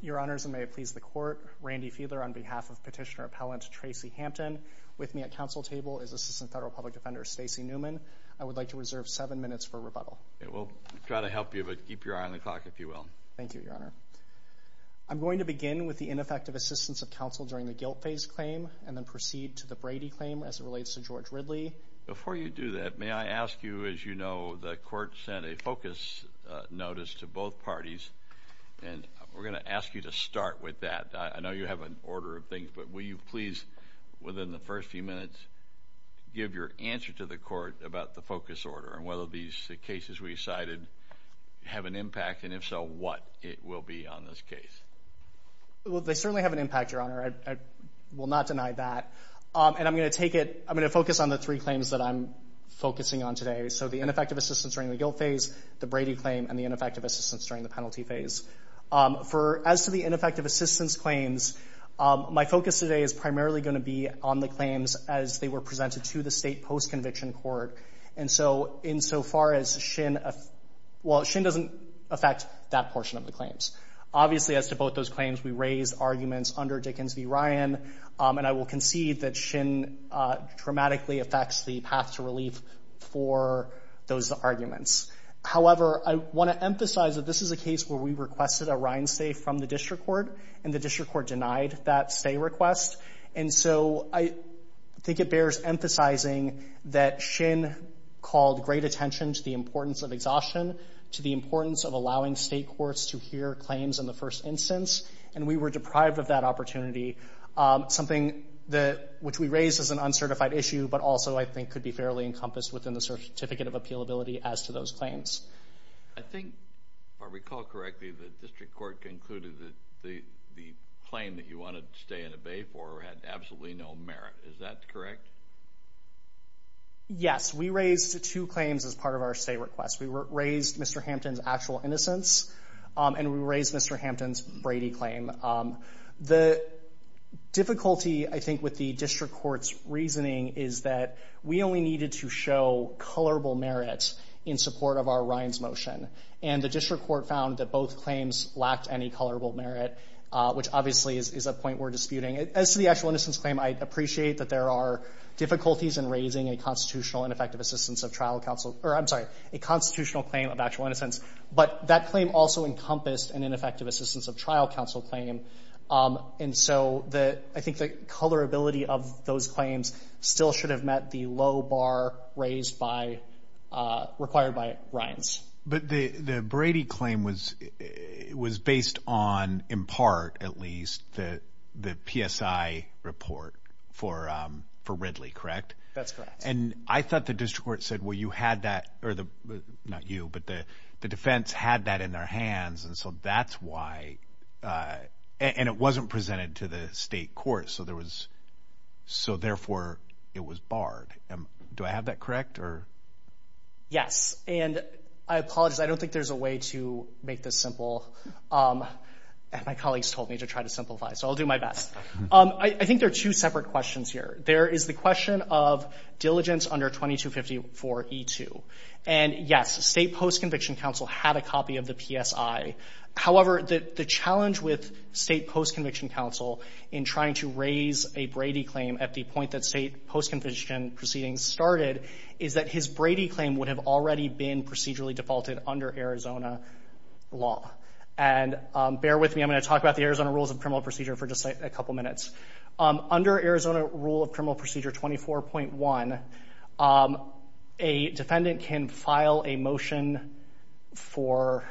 Your Honors, and may it please the Court, Randy Feeler on behalf of Petitioner-Appellant Tracy Hampton. With me at Council table is Assistant Federal Public Defender Stacey Newman. I would like to reserve 7 minutes for rebuttal. We'll try to help you, but keep your eye on the clock, if you will. Thank you, Your Honor. I'm going to begin with the ineffective assistance of counsel during the guilt phase claim, and then proceed to the Brady claim as it relates to George Ridley. Before you do that, may I ask you, as you know, the Court sent a focus notice to both parties, and we're going to ask you to start with that. I know you have an order of things, but will you please, within the first few minutes, give your answer to the Court about the focus order, and whether these cases we cited have an impact, and if so, what it will be on this case? Well, they certainly have an impact, Your Honor. I will not deny that. And I'm going to take it, I'm going to focus on the three claims that I'm focusing on today. So the ineffective assistance during the guilt phase, the Brady claim, and the ineffective assistance during the penalty phase. As to the ineffective assistance claims, my focus today is primarily going to be on the claims as they were presented to the state post-conviction court. And so, insofar as Shin, well, Shin doesn't affect that portion of the claims. Obviously, as to both those claims, we raised arguments under Dickens v. Ryan, and I will concede that Shin dramatically affects the path to relief for those arguments. However, I want to emphasize that this is a case where we requested a Ryan stay from the district court, and the district court denied that stay request. And so, I think it bears emphasizing that Shin called great attention to the importance of exhaustion, to the importance of allowing state courts to hear claims in the first instance, and we were deprived of that opportunity. Something that, which we raised as an uncertified issue, but also I think could be fairly encompassed within the certificate of appealability as to those claims. I think, if I recall correctly, the district court concluded that the claim that you wanted to stay in a bay for had absolutely no merit. Is that correct? Yes. We raised two claims as part of our stay request. We raised Mr. Hampton's actual innocence, and we raised Mr. Hampton's Brady claim. The difficulty, I think, with the district court's reasoning is that we only needed to show colorable merit in support of our Ryan's motion, and the district court found that both claims lacked any colorable merit, which obviously is a point we're disputing. As to the actual innocence claim, I appreciate that there are difficulties in raising a constitutional and effective assistance of trial counsel, or I'm sorry, a constitutional claim of actual innocence, but that claim also encompassed an ineffective assistance of trial counsel claim. And so, I think the colorability of those claims still should have met the low bar raised by, required by Ryan's. But the Brady claim was based on, in part at least, the PSI report for Ridley, correct? That's correct. And I thought the district court said, well, you had that, or not you, but the defense had that in their hands, and so that's why, and it wasn't presented to the state court, so there was, so therefore it was barred. Do I have that correct, or? Yes. And I apologize, I don't think there's a way to make this simple. My colleagues told me to try to simplify, so I'll do my best. I think there are two separate questions here. There is the question of diligence under 2254E2. And yes, state post-conviction counsel had a copy of the PSI. However, the challenge with state post-conviction counsel in trying to raise a Brady claim at the point that state post-conviction proceedings started is that his Brady claim would have already been procedurally defaulted under Arizona law. And bear with me, I'm going to talk about the Arizona rules of criminal procedure for just a couple minutes. Under Arizona rule of criminal procedure 24.1, a defendant can file a motion for,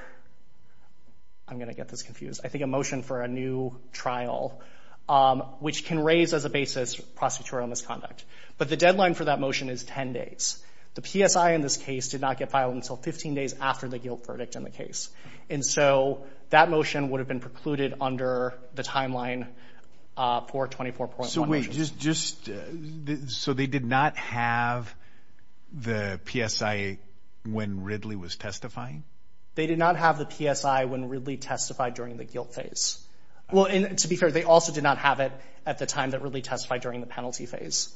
I'm going to get this confused, I think a motion for a new trial, which can raise as a basis prosecutorial misconduct. But the deadline for that motion is 10 days. The PSI in this case did not get filed until 15 days after the guilt verdict in the case. And so that motion would have been precluded under the timeline for 24.1. So wait, just, so they did not have the PSI when Ridley was testifying? They did not have the PSI when Ridley testified during the guilt phase. Well, and to be fair, they also did not have it at the time that Ridley testified during the penalty phase.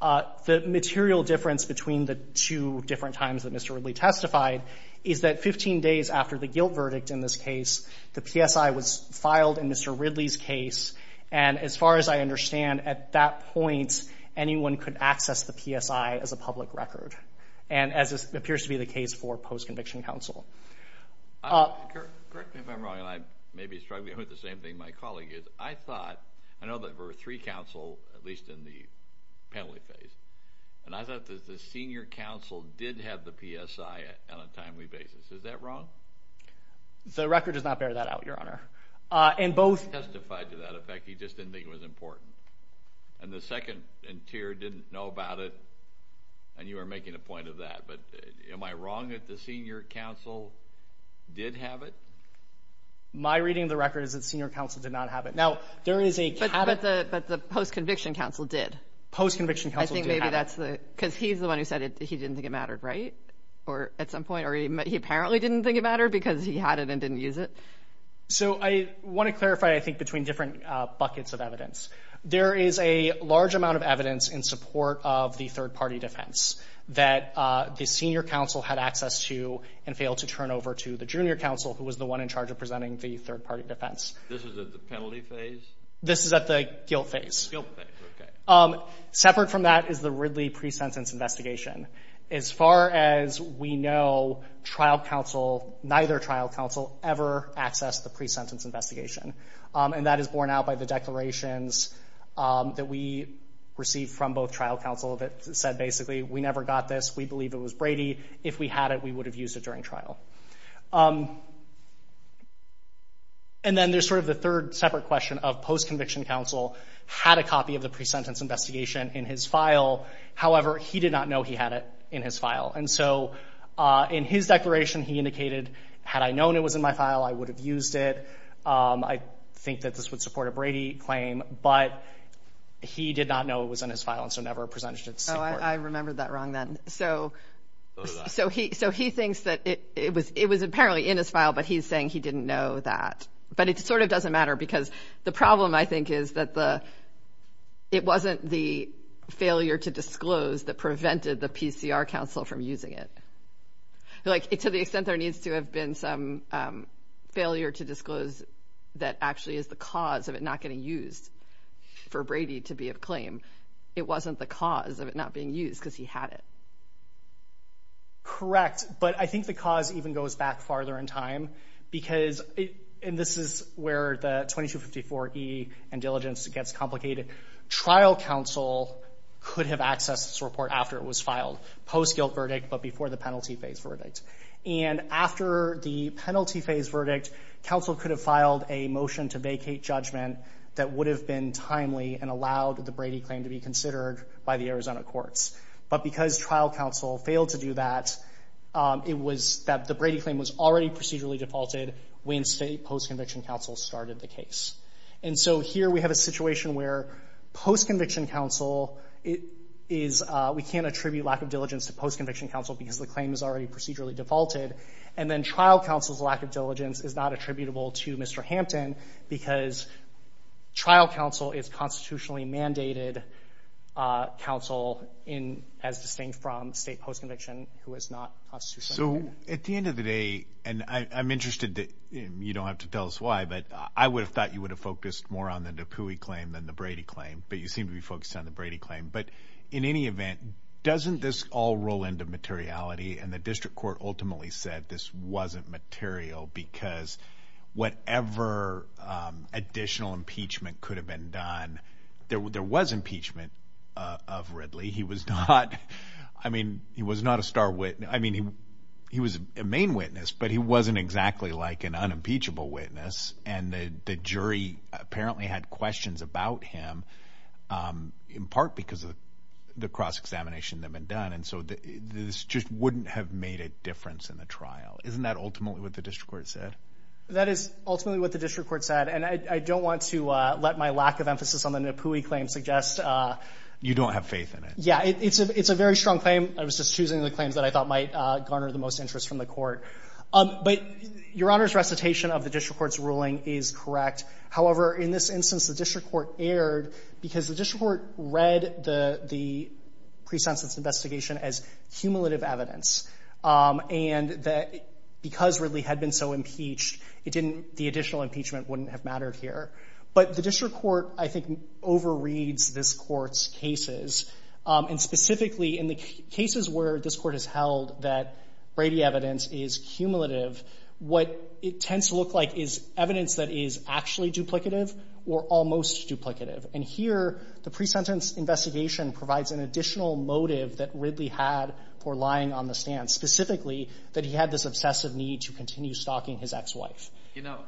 The material difference between the two different times that Mr. Ridley testified is that 15 days after the guilt verdict in this case, the PSI was filed in Mr. Ridley's case. And as far as I understand, at that point, anyone could access the PSI as a public record. And as appears to be the case for post-conviction counsel. Correct me if I'm wrong, and I may be struggling with the same thing my colleague is. I thought, I know that there were three counsel, at least in the penalty phase. And I thought that the senior counsel did have the PSI on a timely basis. Is that wrong? The record does not bear that out, Your Honor. And both testified to that effect, he just didn't think it was important. And the second tier didn't know about it. And you are making a point of that. But am I wrong that the senior counsel did have it? My reading of the record is that the senior counsel did not have it. But the post-conviction counsel did. Post-conviction counsel did have it. Because he's the one who said he didn't think it mattered, right? Or at some point, or he apparently didn't think it mattered because he had it and didn't use it. So I want to clarify, I think, between different buckets of evidence. There is a large amount of evidence in support of the third party defense that the senior counsel had access to and failed to turn over to the junior counsel, who was the one in charge of presenting the third party defense. This is at the penalty phase? This is at the guilt phase. Guilt phase, okay. Separate from that is the Ridley pre-sentence investigation. As far as we know, trial counsel, neither trial counsel ever accessed the pre-sentence investigation. And that is borne out by the declarations that we received from both trial counsel that said basically, we never got this. We believe it was Brady. If we had it, we would have used it during trial. And then there's sort of the third separate question of post-conviction counsel had a copy of the pre-sentence investigation in his file. However, he did not know he had it in his file. And so, in his declaration, he indicated, had I known it was in my file, I would have used it. I think that this would support a Brady claim. But he did not know it was in his file and so never presented it to the Supreme Court. Oh, I remembered that wrong then. So he thinks that it was apparently in his file, but he's saying he didn't know that. But it sort of doesn't matter because the problem I think is that it wasn't the failure to disclose that prevented the PCR counsel from using it. To the extent there needs to have been some failure to disclose that actually is the cause of it not getting used for Brady to be of claim. It wasn't the cause of it not being used because he had it. Correct. But I think the cause even goes back farther in time because, and this is where the 2254E and diligence gets complicated. Trial counsel could have accessed this report after it was filed. Post-guilt verdict, but before the penalty phase verdict. And after the penalty phase verdict, counsel could have filed a motion to vacate judgment that would have been timely and allowed the Brady claim to be considered by the Arizona courts. But because trial counsel failed to do that, it was that the Brady claim was already procedurally defaulted when state post-conviction counsel started the case. And so here we have a situation where post-conviction counsel is, we can't attribute lack of diligence to post-conviction counsel because the claim is already procedurally defaulted. And then trial counsel's lack of diligence is not attributable to Mr. Hampton because trial counsel is constitutionally mandated counsel as distinct from state post-conviction who is not constitutionally mandated. So at the end of the day, and I'm interested that you don't have to tell us why, but I would have thought you would have focused more on the Dupuy claim than the Brady claim, but you seem to be focused on the Brady claim. But in any event, doesn't this all roll into materiality? And the district court ultimately said this wasn't material because whatever additional impeachment could have been done, there was impeachment of Ridley. He was not, I mean, he was not a star witness. I mean, he was a main witness, but he wasn't exactly like an unimpeachable witness. And the jury apparently had questions about him in part because of the cross-examination that had been done. And so this just wouldn't have made a difference in the trial. Isn't that ultimately what the district court said? That is ultimately what the district court said. And I don't want to let my lack of emphasis on the Dupuy claim suggest... You don't have faith in it. Yeah. It's a very strong claim. I was just choosing the claims that I thought might garner the most interest from the court. But Your Honor's recitation of the district court's ruling is correct. However, in this instance, the district court erred because the district court read the pre-sentence investigation as cumulative evidence. And because Ridley had been so impeached, the additional impeachment wouldn't have mattered here. But the district court, I think, overreads this court's cases. And specifically in the cases where this court has held that Brady evidence is cumulative, what it tends to look like is evidence that is actually duplicative or almost duplicative. And here, the pre-sentence investigation provides an additional motive that Ridley had for lying on the stand. Specifically, that he had this obsessive need to continue stalking his ex-wife. You know,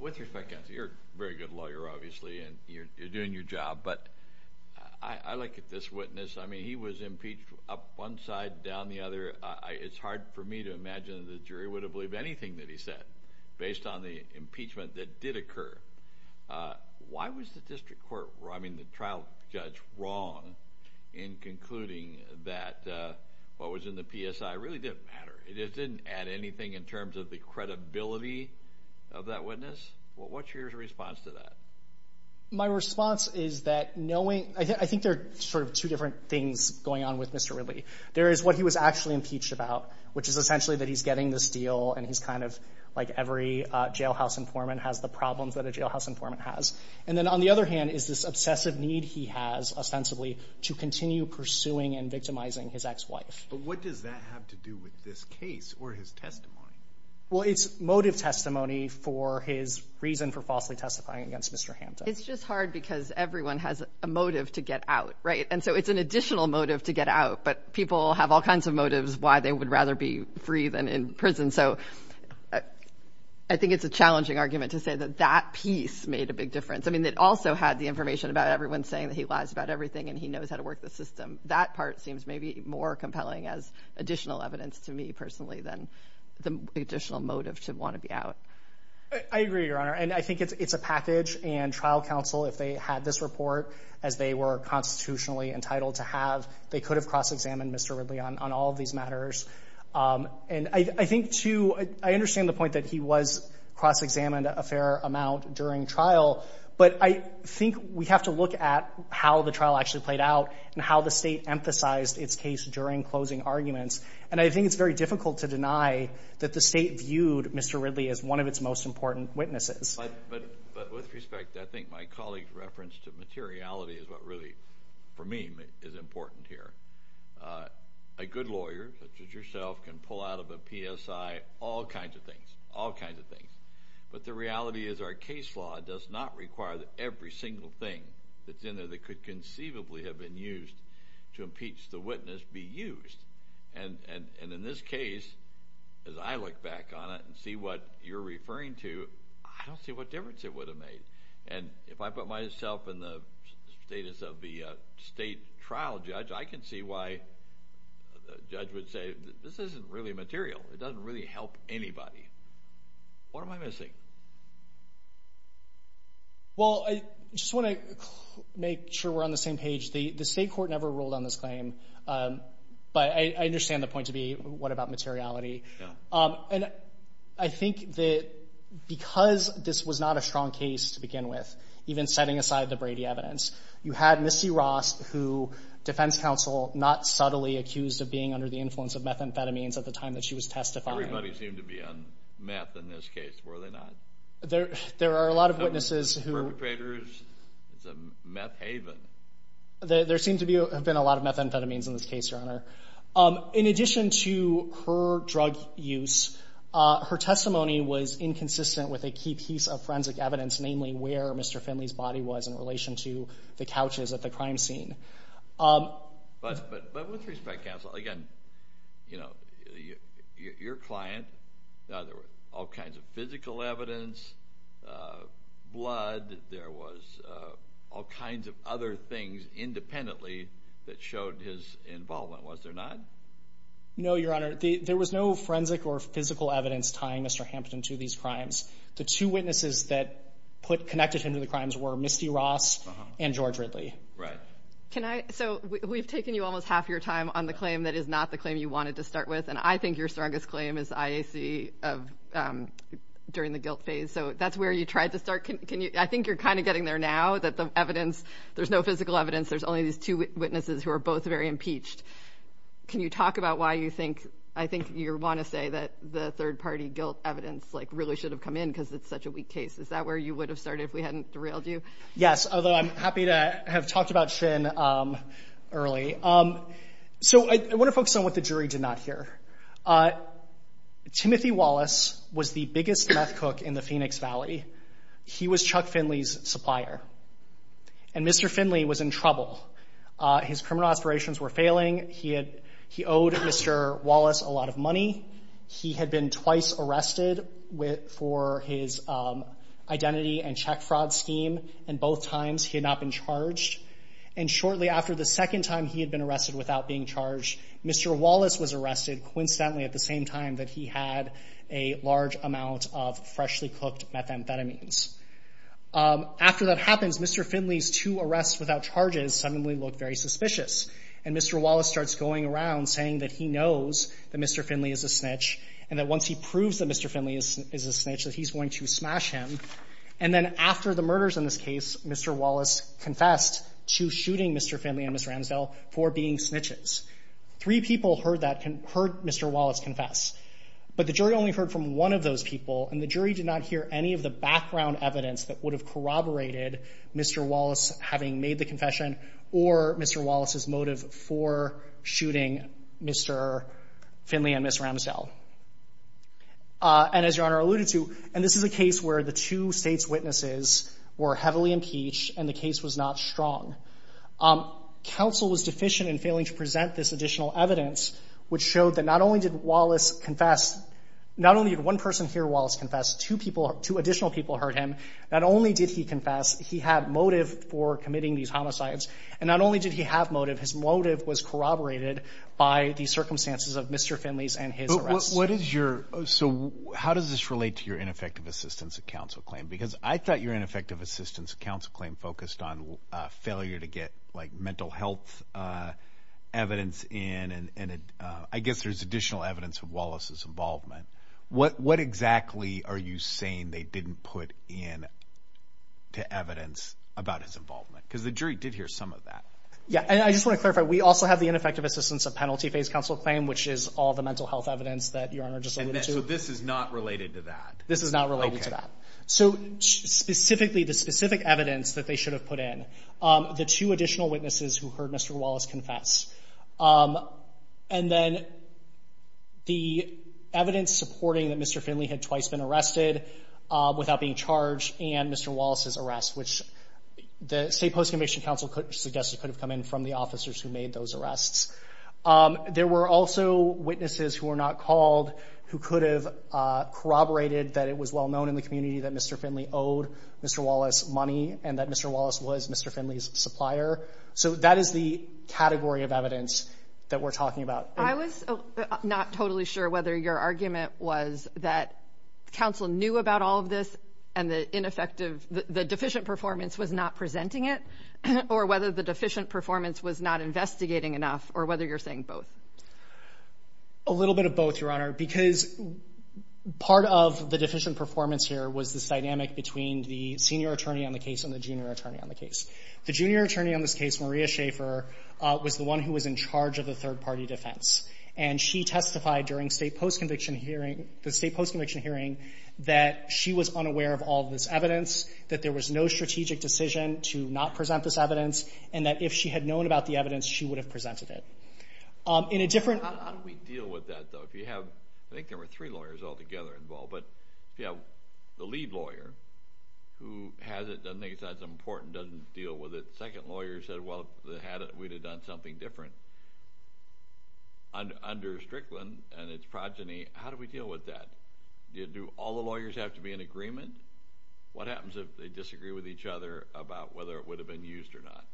with respect, counsel, you're a very good lawyer, obviously, and you're doing your job. But I look at this witness. I mean, he was impeached up one side, down the other. It's hard for me to imagine that the jury would have believed anything that he said based on the impeachment that did occur. Why was the district court, I mean, the trial judge, wrong in concluding that what was in the PSI really didn't matter? It didn't add anything in terms of the credibility of that witness? What's your response to that? My response is that knowing, I think there are sort of two different things going on with Mr. Ridley. There is what he was actually impeached about, which is essentially that he's getting this deal and he's kind of like every jailhouse informant has the problems that a jailhouse informant has. And then on the other hand is this obsessive need he has ostensibly to continue pursuing and victimizing his ex-wife. What does that have to do with this case or his testimony? Well, it's motive testimony for his reason for falsely testifying against Mr. Hampton. It's just hard because everyone has a motive to get out, right? And so it's an additional motive to get out. But people have all kinds of motives why they would rather be free than in prison. So I think it's a challenging argument to say that that piece made a big difference. I mean, it also had the information about everyone saying that he lies about everything and he knows how to work the system. That part seems maybe more compelling as additional evidence to me personally than the additional motive to want to be out. I agree, Your Honor. And I think it's a package and trial counsel, if they had this report as they were constitutionally entitled to have, they could have cross-examined Mr. Ridley on all of these matters. And I think, too, I understand the point that he was cross-examined a fair amount during trial. But I think we have to look at how the trial actually played out and how the state emphasized its case during closing arguments. And I think it's very difficult to deny that the state viewed Mr. Ridley as one of its most important witnesses. But with respect, I think my colleague's reference to materiality is what really, for me, is important here. A good lawyer, such as yourself, can pull out of a PSI all kinds of things, all kinds of things. But the reality is our case law does not require that every single thing that's in there that could conceivably have been used to impeach the witness be used. And in this case, as I look back on it and see what you're referring to, I don't see what difference it would have made. And if I put myself in the status of the state trial judge, I can see why the judge would say, this isn't really material. It doesn't really help anybody. What am I missing? Well, I just want to make sure we're on the same page. The state court never ruled on this claim. But I understand the point to be, what about materiality? And I think that because this was not a strong case to begin with, even setting aside the Brady evidence, you had Missy Ross, who defense counsel not subtly accused of being under the influence of methamphetamines at the time that she was testifying. Everybody seemed to be on meth in this case, were they not? There are a lot of witnesses who... Perpetrators, it's a meth haven. There seem to have been a lot of methamphetamines in this case, Your Honor. In addition to her drug use, her testimony was inconsistent with a key piece of forensic evidence, namely where Mr. Finley's body was in relation to the couches at the crime scene. But with respect, counsel, again, you know, your client, there were all kinds of physical evidence, blood, there was all kinds of other things independently that showed his involvement. Was there not? No, Your Honor. There was no forensic or physical evidence tying Mr. Hampton to these crimes. The two witnesses that connected him to the crimes were Missy Ross and George Ridley. Can I... So we've taken you almost half your time on the claim that is not the claim you wanted to start with. And I think your strongest claim is IAC during the guilt phase. So that's where you tried to start. I think you're kind of getting there now, that the evidence, there's no physical evidence. There's only these two witnesses who are both very impeached. Can you talk about why you think, I think you want to say that the third party guilt evidence like really should have come in because it's such a weak case. Is that where you would have started if we hadn't derailed you? Yes. Although I'm happy to have talked about Shin early. So I want to focus on what the jury did not hear. Timothy Wallace was the biggest meth cook in the Phoenix Valley. He was Chuck Finley's supplier. And Mr. Finley was in trouble. His criminal aspirations were failing. He owed Mr. Wallace a lot of money. He had been twice arrested for his identity and check fraud scheme. And both times he had not been charged. And shortly after the second time he had been arrested without being charged, Mr. Wallace was arrested coincidentally at the same time that he had a large amount of freshly cooked methamphetamines. After that happens, Mr. Finley's two arrests without charges suddenly looked very suspicious. And Mr. Wallace starts going around saying that he knows that Mr. Finley is a snitch and that once he proves that Mr. Finley is a snitch that he's going to smash him. And then after the murders in this case, Mr. Wallace confessed to shooting Mr. Finley and Ms. Ramsdell for being snitches. Three people heard that, heard Mr. Wallace confess. But the jury only heard from one of those people and the jury did not hear any of the background evidence that would have corroborated Mr. Wallace having made the confession or Mr. Wallace's motive for shooting Mr. Finley and Ms. Ramsdell. And as Your Honor alluded to, and this is a case where the two state's witnesses were heavily impeached and the case was not strong. Counsel was deficient in failing to present this additional evidence which showed that not only did Wallace confess, not only did one person hear Wallace confess, two people, two additional people heard him. Not only did he confess, he had motive for committing these homicides. And not only did he have motive, his motive was corroborated by the circumstances of Mr. Finley's and his arrest. What is your, so how does this relate to your ineffective assistance of counsel claim? Because I thought your ineffective assistance of counsel claim focused on failure to get like mental health evidence in and I guess there's additional evidence of Wallace's involvement. What exactly are you saying they didn't put in to evidence about his involvement? Because the jury did hear some of that. Yeah, and I just want to clarify, we also have the ineffective assistance of penalty phase counsel claim, which is all the mental health evidence that Your Honor just alluded to. So this is not related to that? This is not related to that. So specifically, the specific evidence that they should have put in, the two additional witnesses who heard Mr. Wallace confess, and then the evidence supporting that Mr. Finley had twice been arrested without being charged and Mr. Wallace's arrest, which the state post-conviction counsel suggested could have come in from the officers who made those arrests. There were also witnesses who were not called who could have corroborated that it was well known in the community that Mr. Finley owed Mr. Wallace money and that Mr. Wallace was Mr. Finley's supplier. So that is the category of evidence that we're talking about. I was not totally sure whether your argument was that counsel knew about all of this and the deficient performance was not presenting it, or whether the deficient performance was not investigating enough, or whether you're saying both. A little bit of both, Your Honor, because part of the deficient performance here was this dynamic between the senior attorney on the case and the junior attorney on the case. The junior attorney on this case, Maria Schaefer, was the one who was in charge of the third party defense. And she testified during the state post-conviction hearing that she was unaware of all this evidence, that there was no strategic decision to not present this evidence, and that if she had known about the evidence, she would have presented it. In a different... How do we deal with that, though? If you have... I think there were three lawyers all together involved, but if you have the lead lawyer who has it, doesn't think it's that important, doesn't deal with it, second lawyer said, well, if they had it, we'd have done something different. Under Strickland and its progeny, how do we deal with that? Do all the lawyers have to be in agreement? What happens if they disagree with each other about whether it would have been used or not?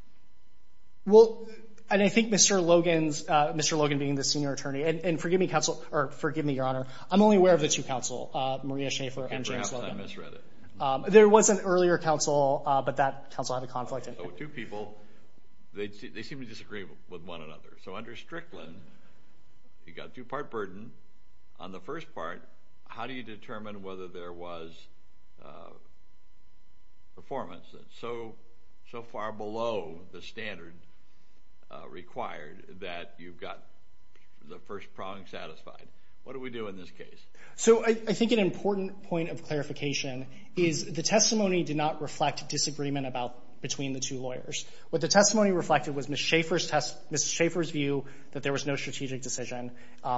Well, and I think Mr. Logan's, Mr. Logan being the senior attorney, and forgive me, counsel, or forgive me, Your Honor, I'm only aware of the two counsel, Maria Schaefer and James Weldon. Perhaps I misread it. There was an earlier counsel, but that counsel had a conflict. So two people, they seem to disagree with one another. So under Strickland, you got a two-part burden. On the first part, how do you determine whether there was performance that's so far below the standard required that you've got the first prong satisfied? What do we do in this case? So I think an important point of clarification is the testimony did not reflect disagreement the two lawyers. What the testimony reflected was Ms. Schaefer's view that there was no strategic decision.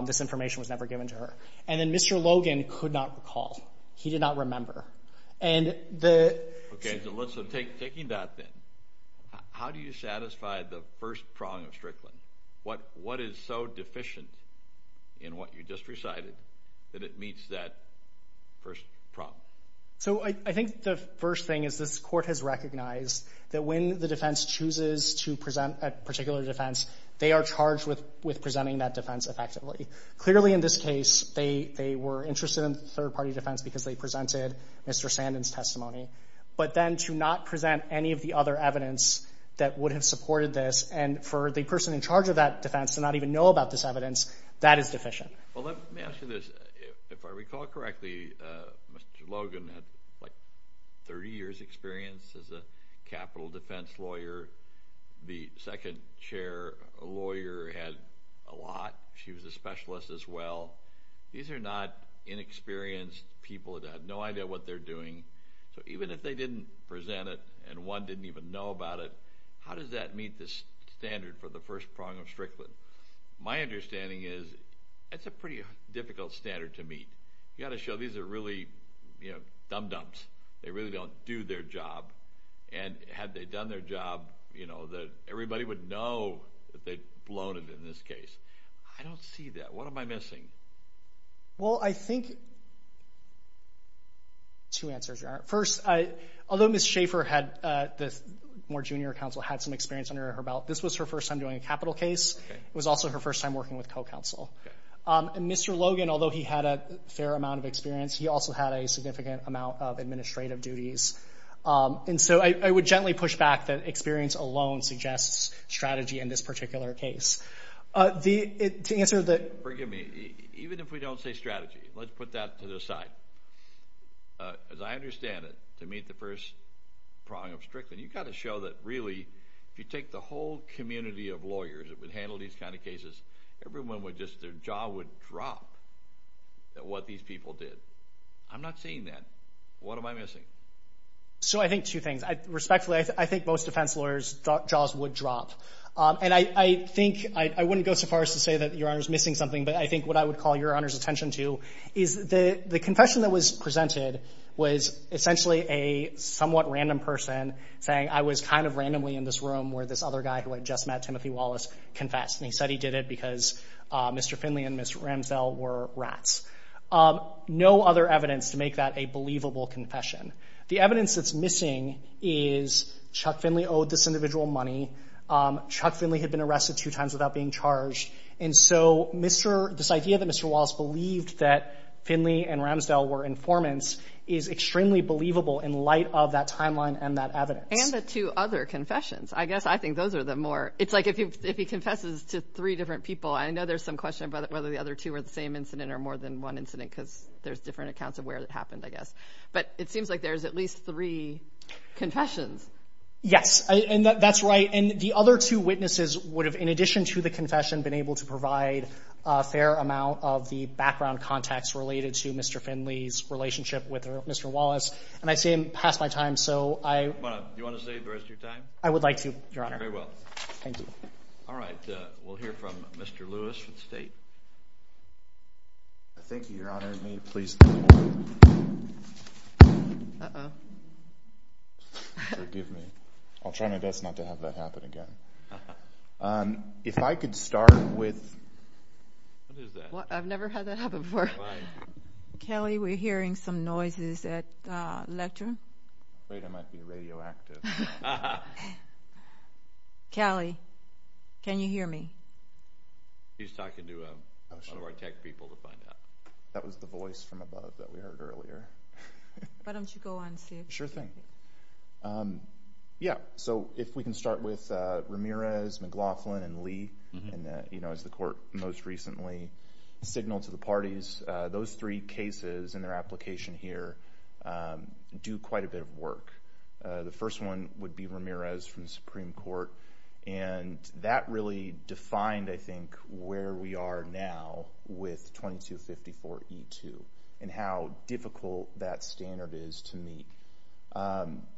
This information was never given to her. And then Mr. Logan could not recall. He did not remember. Okay, so taking that then, how do you satisfy the first prong of Strickland? What is so deficient in what you just recited that it meets that first prong? So I think the first thing is this Court has recognized that when the defense chooses to present a particular defense, they are charged with presenting that defense effectively. Clearly in this case, they were interested in third-party defense because they presented Mr. Sandin's testimony. But then to not present any of the other evidence that would have supported this, and for the person in charge of that defense to not even know about this evidence, that is deficient. Well, let me ask you this. If I recall correctly, Mr. Logan had like 30 years' experience as a capital defense lawyer. The second-chair lawyer had a lot. She was a specialist as well. These are not inexperienced people that have no idea what they're doing. So even if they didn't present it and one didn't even know about it, how does that meet the standard for the first prong of Strickland? My understanding is it's a pretty difficult standard to meet. You've got to show these are really, you know, dum-dums. They really don't do their job. And had they done their job, you know, everybody would know that they'd blown it in this case. I don't see that. What am I missing? Well, I think two answers. First, although Ms. Schaffer had, the Moore Junior Counsel, had some experience under her belt, this was her first time doing a capital case. It was also her first time working with co-counsel. And Mr. Logan, although he had a fair amount of experience, he also had a significant amount of administrative duties. And so I would gently push back that experience alone suggests strategy in this particular case. To answer the... Forgive me. Even if we don't say strategy, let's put that to the side. As I understand it, to meet the first prong of Strickland, you've got to show that really, if you take the whole community of lawyers that would handle these kind of cases, everyone would just, their jaw would drop at what these people did. I'm not seeing that. What am I missing? So I think two things. Respectfully, I think most defense lawyers' jaws would drop. And I think, I wouldn't go so far as to say that Your Honor is missing something, but I think what I would call Your Honor's attention to is the confession that was presented was essentially a somewhat random person saying, I was kind of randomly in this room where this other guy who had just met Timothy Wallace confessed. And he said he did it because Mr. Finley and Ms. Ramsdell were rats. No other evidence to make that a believable confession. The evidence that's missing is Chuck Finley owed this individual money. Chuck Finley had been arrested two times without being charged. And so this idea that Mr. Wallace believed that Finley and Ramsdell were informants is extremely believable in light of that timeline and that evidence. And the two other confessions. I guess I think those are the more, it's like if he confesses to three different people, I know there's some question about whether the other two are the same incident or more than one incident because there's different accounts of where it happened, I guess. But it seems like there's at least three confessions. Yes, and that's right. And the other two witnesses would have, in addition to the confession, been able to provide a fair amount of the background context related to Mr. Finley's relationship with Mr. Wallace. And I see I'm past my time, so I... Do you want to save the rest of your time? I would like to, Your Honor. Very well. Thank you. All right. We'll hear from Mr. Lewis from the state. Thank you, Your Honor. May you please... Forgive me. I'll try my best not to have that happen again. If I could start with... What is that? I've never had that happen before. Kelly, we're hearing some noises at lecture. I'm afraid I might be radioactive. Kelly, can you hear me? She's talking to one of our tech people to find out. That was the voice from above that we heard earlier. Why don't you go on, Steve? Sure thing. Yeah. So, if we can start with Ramirez, McLaughlin, and Lee, and as the Court most recently signaled to the parties, those three cases and their application here do quite a bit of work. The first one would be Ramirez from the Supreme Court, and that really defined, I think, where we are now with 2254E2 and how difficult that standard is to meet.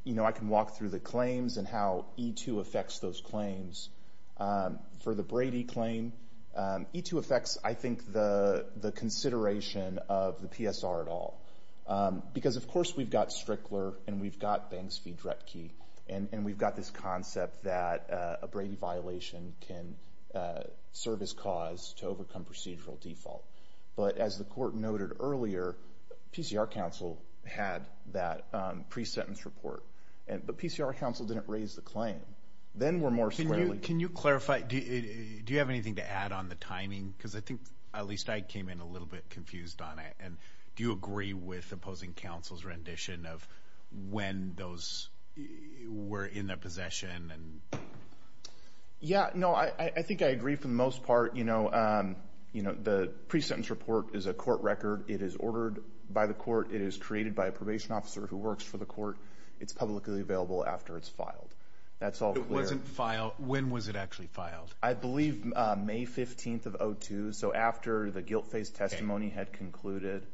You know, I can walk through the claims and how E2 affects those claims. For the Brady claim, E2 affects, I think, the consideration of the PSR at all, because, of course, we've got Strickler and we've got Banks v. Dretke, and we've got this concept that a Brady violation can serve as cause to overcome procedural default. But as the Court noted earlier, PCR counsel had that pre-sentence report, but PCR counsel didn't raise the claim. Then we're more squarely... Can you clarify? Do you have anything to add on the timing? Because I think at least I came in a little bit confused on it, and do you agree with opposing counsel's rendition of when those were in their possession? Yeah. No, I think I agree for the most part. You know, the pre-sentence report is a court record. It is ordered by the court. It is created by a probation officer who works for the court. It's publicly available after it's filed. That's all clear. It wasn't filed. When was it actually filed? I believe May 15th of 2002, so after the guilt phase testimony had concluded.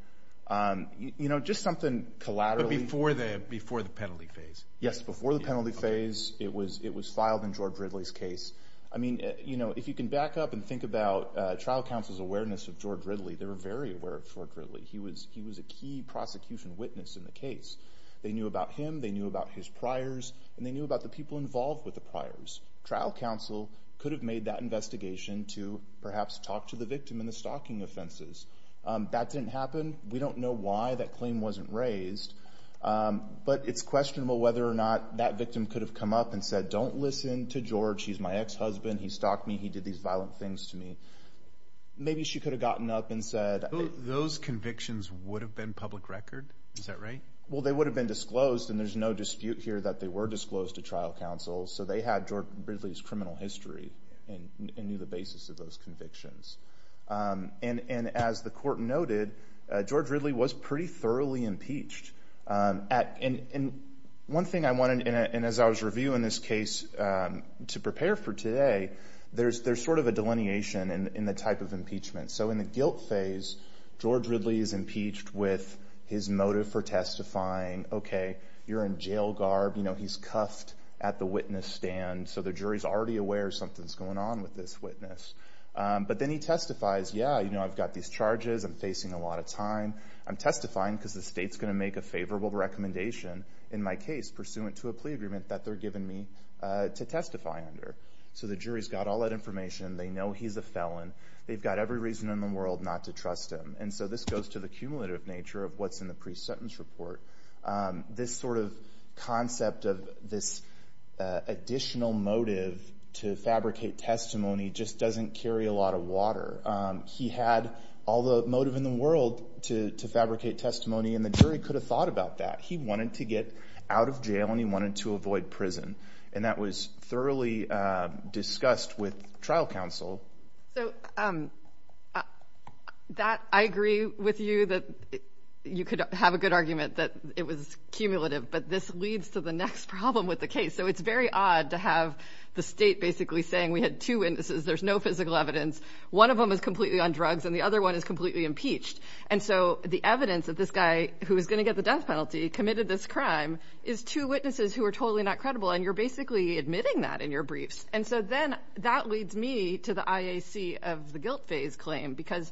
You know, just something collaterally... But before the penalty phase? Yes, before the penalty phase. It was filed in George Ridley's case. I mean, you know, if you can back up and think about trial counsel's awareness of George Ridley, they were very aware of George Ridley. He was a key prosecution witness in the case. They knew about him. They knew about his priors. And they knew about the people involved with the priors. Trial counsel could have made that investigation to perhaps talk to the victim in the stalking offenses. That didn't happen. We don't know why that claim wasn't raised. But it's questionable whether or not that victim could have come up and said, don't listen to George. He's my ex-husband. He stalked me. He did these violent things to me. Maybe she could have gotten up and said... Those convictions would have been public record? Is that right? Well, they would have been disclosed. And there's no dispute here that they were disclosed to trial counsel. So they had George Ridley's criminal history and knew the basis of those convictions. And as the court noted, George Ridley was pretty thoroughly impeached. And one thing I wanted, and as I was reviewing this case to prepare for today, there's sort of a delineation in the type of impeachment. So in the guilt phase, George Ridley is impeached with his motive for testifying. OK, you're in jail garb. He's cuffed at the witness stand. So the jury's already aware something's going on with this witness. But then he testifies. Yeah, I've got these charges. I'm facing a lot of time. I'm testifying because the state's going to make a favorable recommendation in my case pursuant to a plea agreement that they're giving me to testify under. So the jury's got all that information. They know he's a felon. They've got every reason in the world not to trust him. And so this goes to the cumulative nature of what's in the pre-sentence report. This sort of concept of this additional motive to fabricate testimony just doesn't carry a lot of water. He had all the motive in the world to fabricate testimony. And the jury could have thought about that. He wanted to get out of jail. And he wanted to avoid prison. And that was thoroughly discussed with trial counsel. So I agree with you that you could have a good argument that it was cumulative. But this leads to the next problem with the case. So it's very odd to have the state basically saying we had two witnesses. There's no physical evidence. One of them is completely on drugs. And the other one is completely impeached. And so the evidence that this guy who was going to get the death penalty committed this crime is two witnesses who are totally not credible. And you're basically admitting that in your briefs. And so then that leads me to the IAC of the guilt phase claim. Because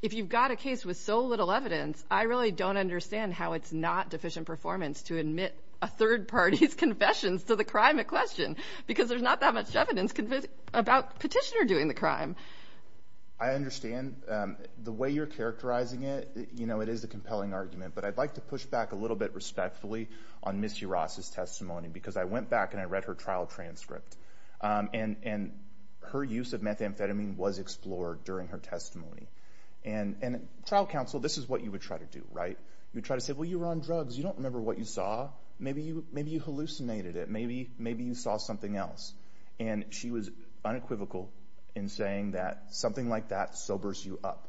if you've got a case with so little evidence, I really don't understand how it's not deficient performance to admit a third party's confessions to the crime at question. Because there's not that much evidence about the petitioner doing the crime. I understand the way you're characterizing it. You know, it is a compelling argument. But I'd like to push back a little bit respectfully on Ms. Yarras' testimony. Because I went back and I read her trial transcript. And her use of methamphetamine was explored during her testimony. And trial counsel, this is what you would try to do, right? You try to say, well, you were on drugs. You don't remember what you saw. Maybe you hallucinated it. Maybe you saw something else. And she was unequivocal in saying that something like that sobers you up.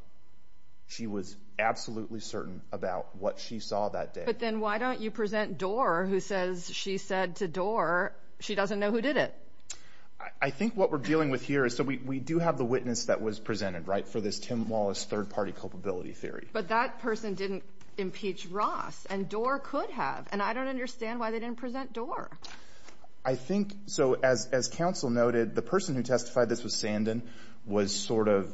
She was absolutely certain about what she saw that day. But then why don't you present Doar, who says she said to Doar, she doesn't know who did it? I think what we're dealing with here is, so we do have the witness that was presented, right? For this Tim Wallace third party culpability theory. But that person didn't impeach Ross. And Doar could have. And I don't understand why they didn't present Doar. I think, so as counsel noted, the person who testified this was Sandin, was sort of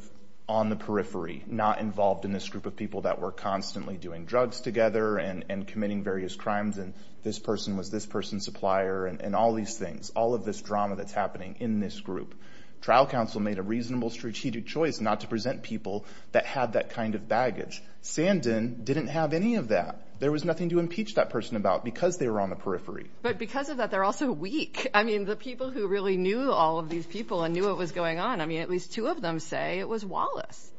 on the periphery, not involved in this group of people that were constantly doing drugs together and committing various crimes. And this person was this person's supplier and all these things, all of this drama that's happening in this group. Trial counsel made a reasonable strategic choice not to present people that had that kind of baggage. Sandin didn't have any of that. There was nothing to impeach that person about because they were on the periphery. But because of that, they're also weak. I mean, the people who really knew all of these people and knew what was going on, I mean, at least two of them say it was Wallace.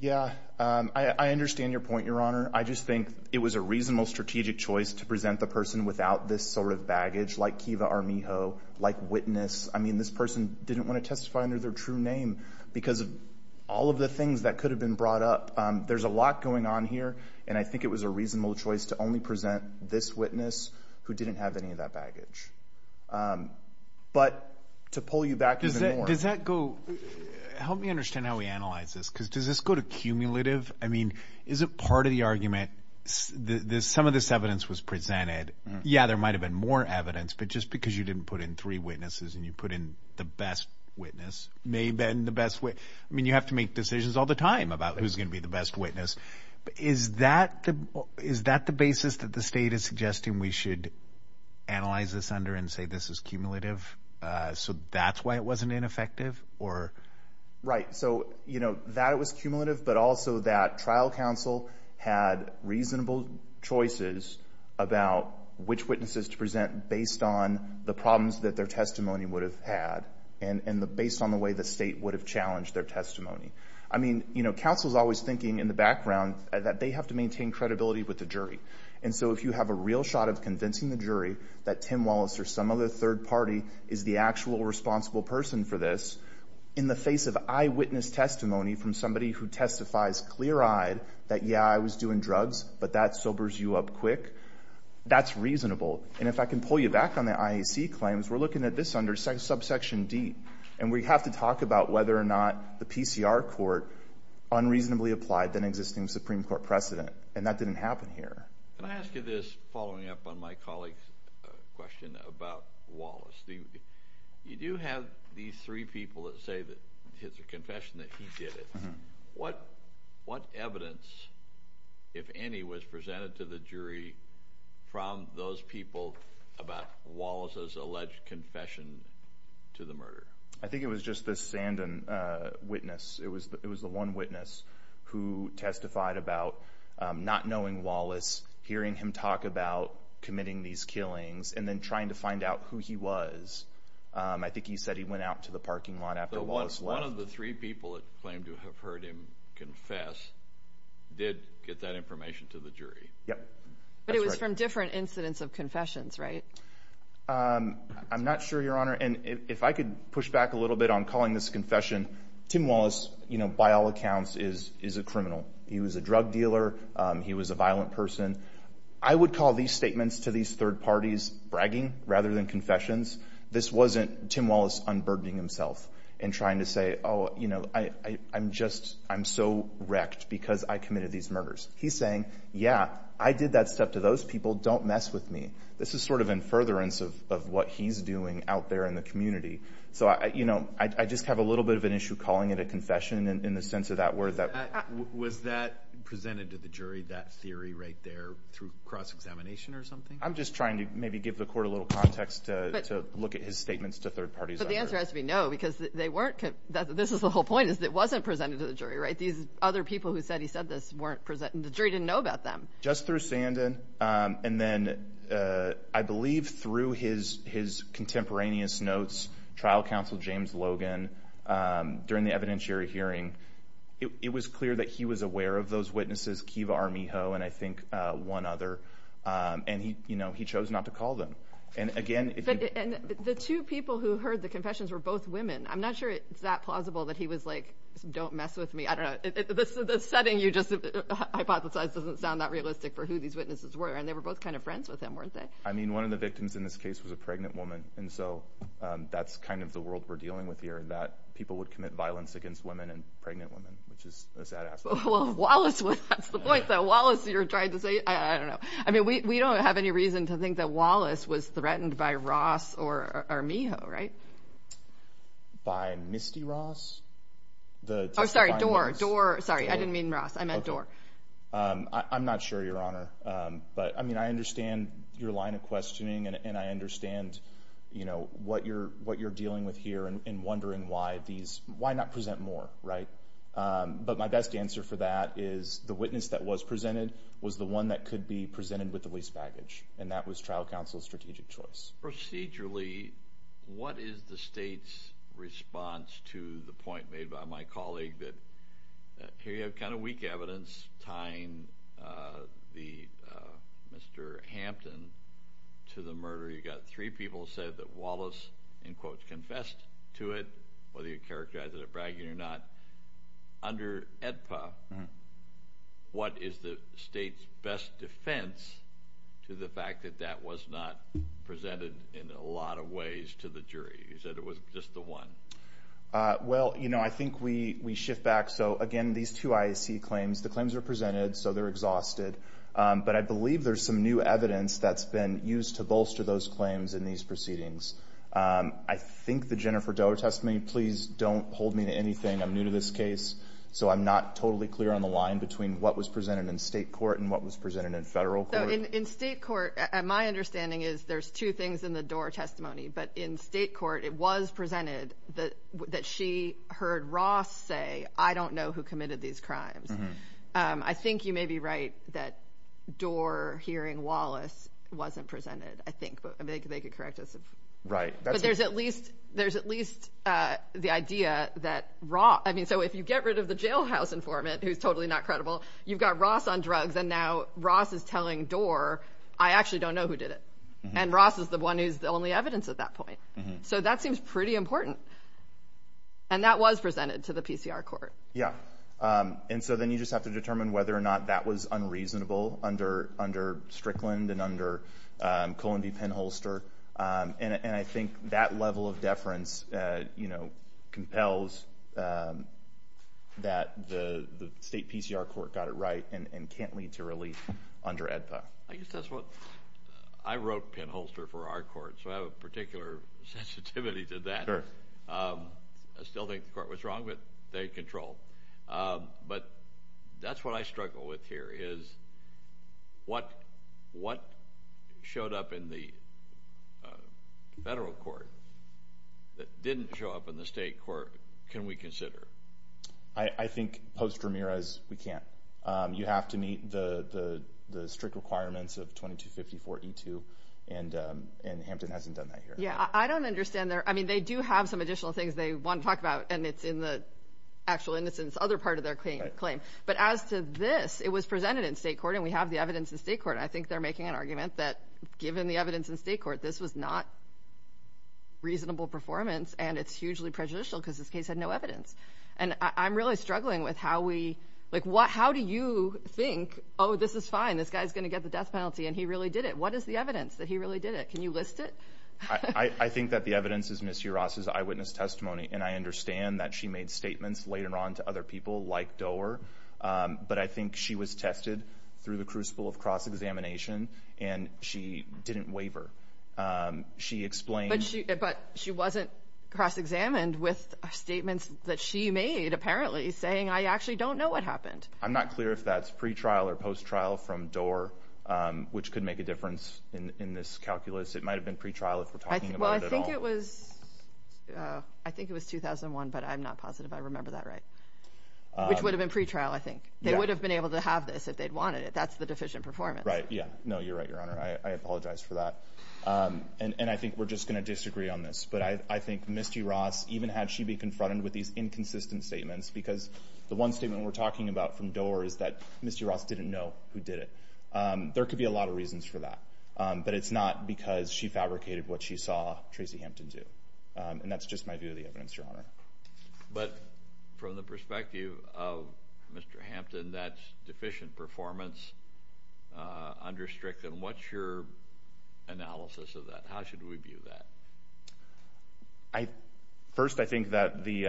Yeah, I understand your point, Your Honor. I just think it was a reasonable strategic choice to present the person without this sort of baggage, like Kiva Armijo, like witness. I mean, this person didn't want to testify under their true name because of all of the things that could have been brought up. There's a lot going on here. And I think it was a reasonable choice to only present this witness who didn't have any of that baggage. But to pull you back even more... Does that go... Help me understand how we analyze this, because does this go to cumulative? I mean, is it part of the argument? Some of this evidence was presented. Yeah, there might have been more evidence, but just because you didn't put in three witnesses and you put in the best witness, may have been the best witness. I mean, you have to make decisions all the time about who's going to be the best witness. Is that the basis that the state is suggesting we should analyze this under and say this is cumulative? So that's why it wasn't ineffective? Right. So, you know, that it was cumulative, but also that trial counsel had reasonable choices about which witnesses to present based on the problems that their testimony would have had and based on the way the state would have challenged their testimony. I mean, you know, counsel's always thinking in the background that they have to maintain credibility with the jury. And so if you have a real shot of convincing the jury that Tim Wallace or some other third party is the actual responsible person for this in the face of eyewitness testimony from somebody who testifies clear-eyed that, yeah, I was doing drugs, but that sobers you up quick, that's reasonable. And if I can pull you back on the IAC claims, we're looking at this under subsection D. And we have to talk about whether or not the PCR court unreasonably applied than existing Supreme Court precedent. And that didn't happen here. Can I ask you this following up on my colleague's question about Wallace? You do have these three people that say that it's a confession that he did it. What evidence, if any, was presented to the jury from those people about Wallace's alleged confession to the murder? I think it was just the Sandin witness. It was the one witness who testified about not knowing Wallace, hearing him talk about committing these killings, and then trying to find out who he was. I think he said he went out to the parking lot after Wallace left. One of the three people that claimed to have heard him confess did get that information to the jury. Yep. But it was from different incidents of confessions, right? I'm not sure, Your Honor. If I could push back a little bit on calling this a confession, Tim Wallace, by all accounts, is a criminal. He was a drug dealer. He was a violent person. I would call these statements to these third parties bragging rather than confessions. This wasn't Tim Wallace unburdening himself and trying to say, oh, I'm so wrecked because I committed these murders. He's saying, yeah, I did that stuff to those people. Don't mess with me. This is sort of in furtherance of what he's doing out there in the community. So I just have a little bit of an issue calling it a confession in the sense of that word. Was that presented to the jury, that theory right there, through cross-examination or something? I'm just trying to maybe give the court a little context to look at his statements to third parties. But the answer has to be no because they weren't... This is the whole point, is it wasn't presented to the jury, right? These other people who said he said this weren't presented. The jury didn't know about them. Just through Sandon and then I believe through his contemporaneous notes, trial counsel James Logan during the evidentiary hearing, it was clear that he was aware of those witnesses, Kiva Armijo and I think one other. And he chose not to call them. And again... But the two people who heard the confessions were both women. I'm not sure it's that plausible that he was like, don't mess with me. I don't know. The setting you just hypothesized doesn't sound that realistic for who these witnesses were. And they were both kind of friends with him, weren't they? I mean, one of the victims in this case was a pregnant woman. And so that's kind of the world we're dealing with here that people would commit violence against women and pregnant women, which is a sad aspect. Well, Wallace, that's the point though. Wallace, you're trying to say... I don't know. I mean, we don't have any reason to think that Wallace was threatened by Ross or Armijo, right? By Misty Ross? Oh, sorry, Dorr. Dorr. Sorry, I didn't mean Ross. I meant Dorr. I'm not sure, Your Honor. But I mean, I understand your line of questioning and I understand, you know, what you're dealing with here and wondering why these... Why not present more, right? But my best answer for that is the witness that was presented was the one that could be presented with the least baggage. And that was trial counsel's strategic choice. Procedurally, what is the state's response to the point made by my colleague that here you have kind of weak evidence tying Mr. Hampton to the murder? You got three people who said that Wallace, in quotes, confessed to it, whether you characterize it as bragging or not. Under AEDPA, what is the state's best defense to the fact that that was not presented in a lot of ways to the jury? You said it was just the one. Well, you know, I think we shift back. So again, these two IAC claims, the claims are presented, so they're exhausted. But I believe there's some new evidence that's been used to bolster those claims in these proceedings. I think the Jennifer Doerr testimony, please don't hold me to anything. I'm new to this case. So I'm not totally clear on the line between what was presented in state court and what was presented in federal court. So in state court, my understanding is there's two things in the Doerr testimony. But in state court, it was presented that she heard Ross say, I don't know who committed these crimes. I think you may be right that Doerr hearing Wallace wasn't presented, I think, but they could correct us. Right. But there's at least the idea that Ross, I mean, so if you get rid of the jailhouse informant who's totally not credible, you've got Ross on drugs. And now Ross is telling Doerr, I actually don't know who did it. And Ross is the one who's the only evidence at that point. So that seems pretty important. And that was presented to the PCR court. Yeah. And so then you just have to determine whether or not that was unreasonable under Strickland and under Cohen v. Penholster. And I think that level of deference compels that the state PCR court got it right and can't lead to relief under AEDPA. I guess that's what, I wrote Penholster for our court, so I have a particular sensitivity to that. I still think the court was wrong, but they controlled. But that's what I struggle with here is what showed up in the federal court that didn't show up in the state court can we consider? I think post Ramirez, we can't. You have to meet the strict requirements of 2254E2 and Hampton hasn't done that here. Yeah, I don't understand there. I mean, they do have some additional things they want to talk about and it's in the actual innocence. Other part of their claim claim. But as to this, it was presented in state court and we have the evidence in state court. I think they're making an argument that given the evidence in state court, this was not. Reasonable performance and it's hugely prejudicial because this case had no evidence and I'm really struggling with how we like what? How do you think? Oh, this is fine. This guy is going to get the death penalty and he really did it. What is the evidence that he really did it? Can you list it? I think that the evidence is Mr Ross's eyewitness testimony and I understand that she made statements later on to other people like door, but I think she was tested through the crucible of cross examination and she didn't waiver. She explained, but she wasn't cross examined with statements that she made. Apparently saying I actually don't know what happened. I'm not clear if that's pre trial or post trial from door, which could make a difference in this calculus. It might have been pre trial if we're talking about it. Well, I think it was. I think it was 2001, but I'm not positive. I remember that right. Which would have been pre trial. I think they would have been able to have this if they'd wanted it. That's the deficient performance, right? Yeah, no, you're right, Your Honor. I apologize for that. And I think we're just going to disagree on this, but I think Misty Ross even had she be confronted with these inconsistent statements because the one statement we're talking about from door is that Mr Ross didn't know who did it. There could be a lot of reasons for that, but it's not because she fabricated what she saw Tracy Hampton do. And that's just my view of the evidence, Your Honor. But from the perspective of Mr Hampton, that's deficient performance. Under Strickland, what's your analysis of that? How should we view that? I first, I think that the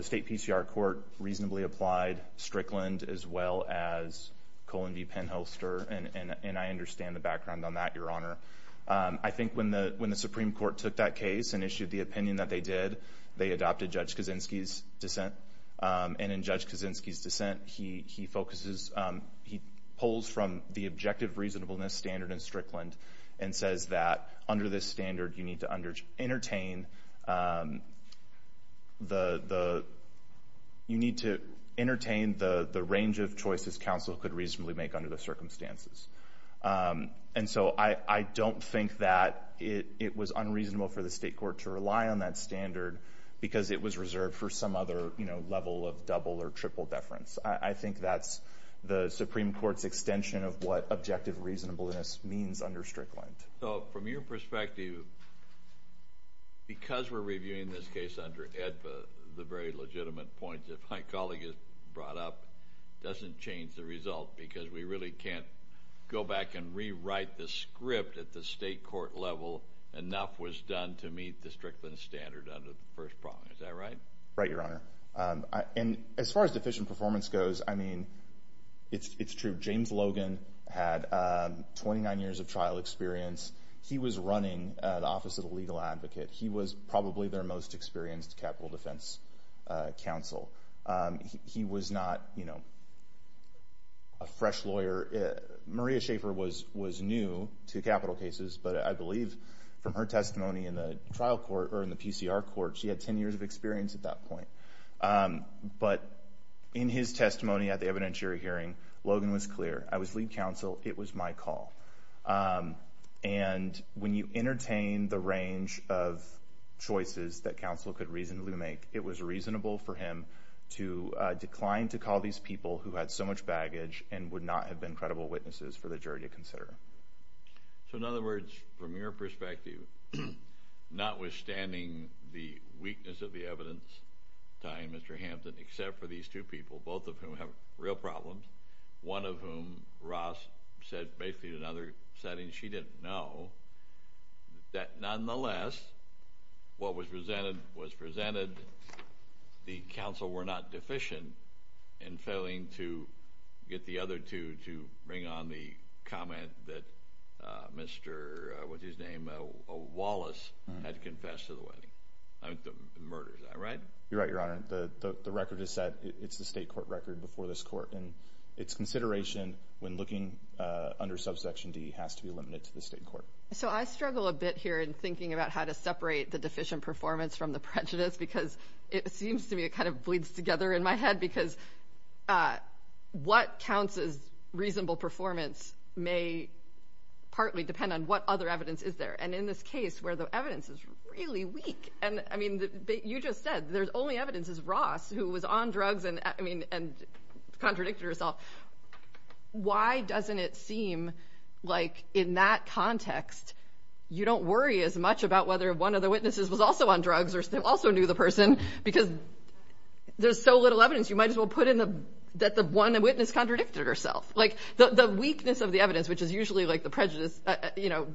state PCR court reasonably applied Strickland as well as Colin V Penholster, and I understand the background on that, Your Honor. I think when the when the Supreme Court took that case and issued the opinion that they did, they adopted Judge Kaczynski's dissent. And in Judge Kaczynski's dissent, he focuses, he pulls from the objective reasonableness standard in Strickland and says that under this standard, you need to entertain the you need to entertain the range of choices counsel could reasonably make under the circumstances. And so I don't think that it was unreasonable for the state court to rely on that standard because it was reserved for some other, you know, level of double or triple deference. I think that's the Supreme Court's extension of what objective reasonableness means under Strickland. So from your perspective, because we're reviewing this case under EDPA, the very legitimate point that my colleague brought up doesn't change the result because we really can't go back and rewrite the script at the state court level. Enough was done to meet the Strickland standard under the first prong. Is that right? Right, Your Honor. And as far as deficient performance goes, I mean, it's true. James Logan had 29 years of trial experience. He was running the Office of the Legal Advocate. He was probably their most experienced capital defense counsel. He was not, you know, a fresh lawyer. Maria Schaffer was new to capital cases, but I believe from her testimony in the trial court or in the PCR court, she had 10 years of experience at that point. But in his testimony at the evidentiary hearing, Logan was clear. I was lead counsel. It was my call. And when you entertain the range of choices that counsel could reasonably make, it was reasonable for him to decline to call these people who had so much baggage and would not have been credible witnesses for the jury to consider. So in other words, from your perspective, notwithstanding the weakness of the evidence, tying Mr. Hampton, except for these two people, both of whom have real problems, one of whom, Ross, said basically in another setting she didn't know, that nonetheless, what was presented was presented. The counsel were not deficient in failing to get the other two to bring on the comment that Mr., with his name, Wallace had confessed to the wedding. I mean, the murder, is that right? You're right, Your Honor. The record is set. It's the state court record before this court. And it's consideration when looking under subsection D has to be limited to the state court. So I struggle a bit here in thinking about how to separate the deficient performance from the prejudice because it seems to me it kind of bleeds together in my head because what counts as reasonable performance may partly depend on what other evidence is there. And in this case, where the evidence is really weak, and I mean, you just said there's only evidence is Ross who was on drugs and contradicted herself. Why doesn't it seem like in that context, you don't worry as much about whether one of the witnesses was also on drugs or also knew the person because there's so little evidence you might as well put in that the one witness contradicted herself. The weakness of the evidence, which is usually like the prejudice,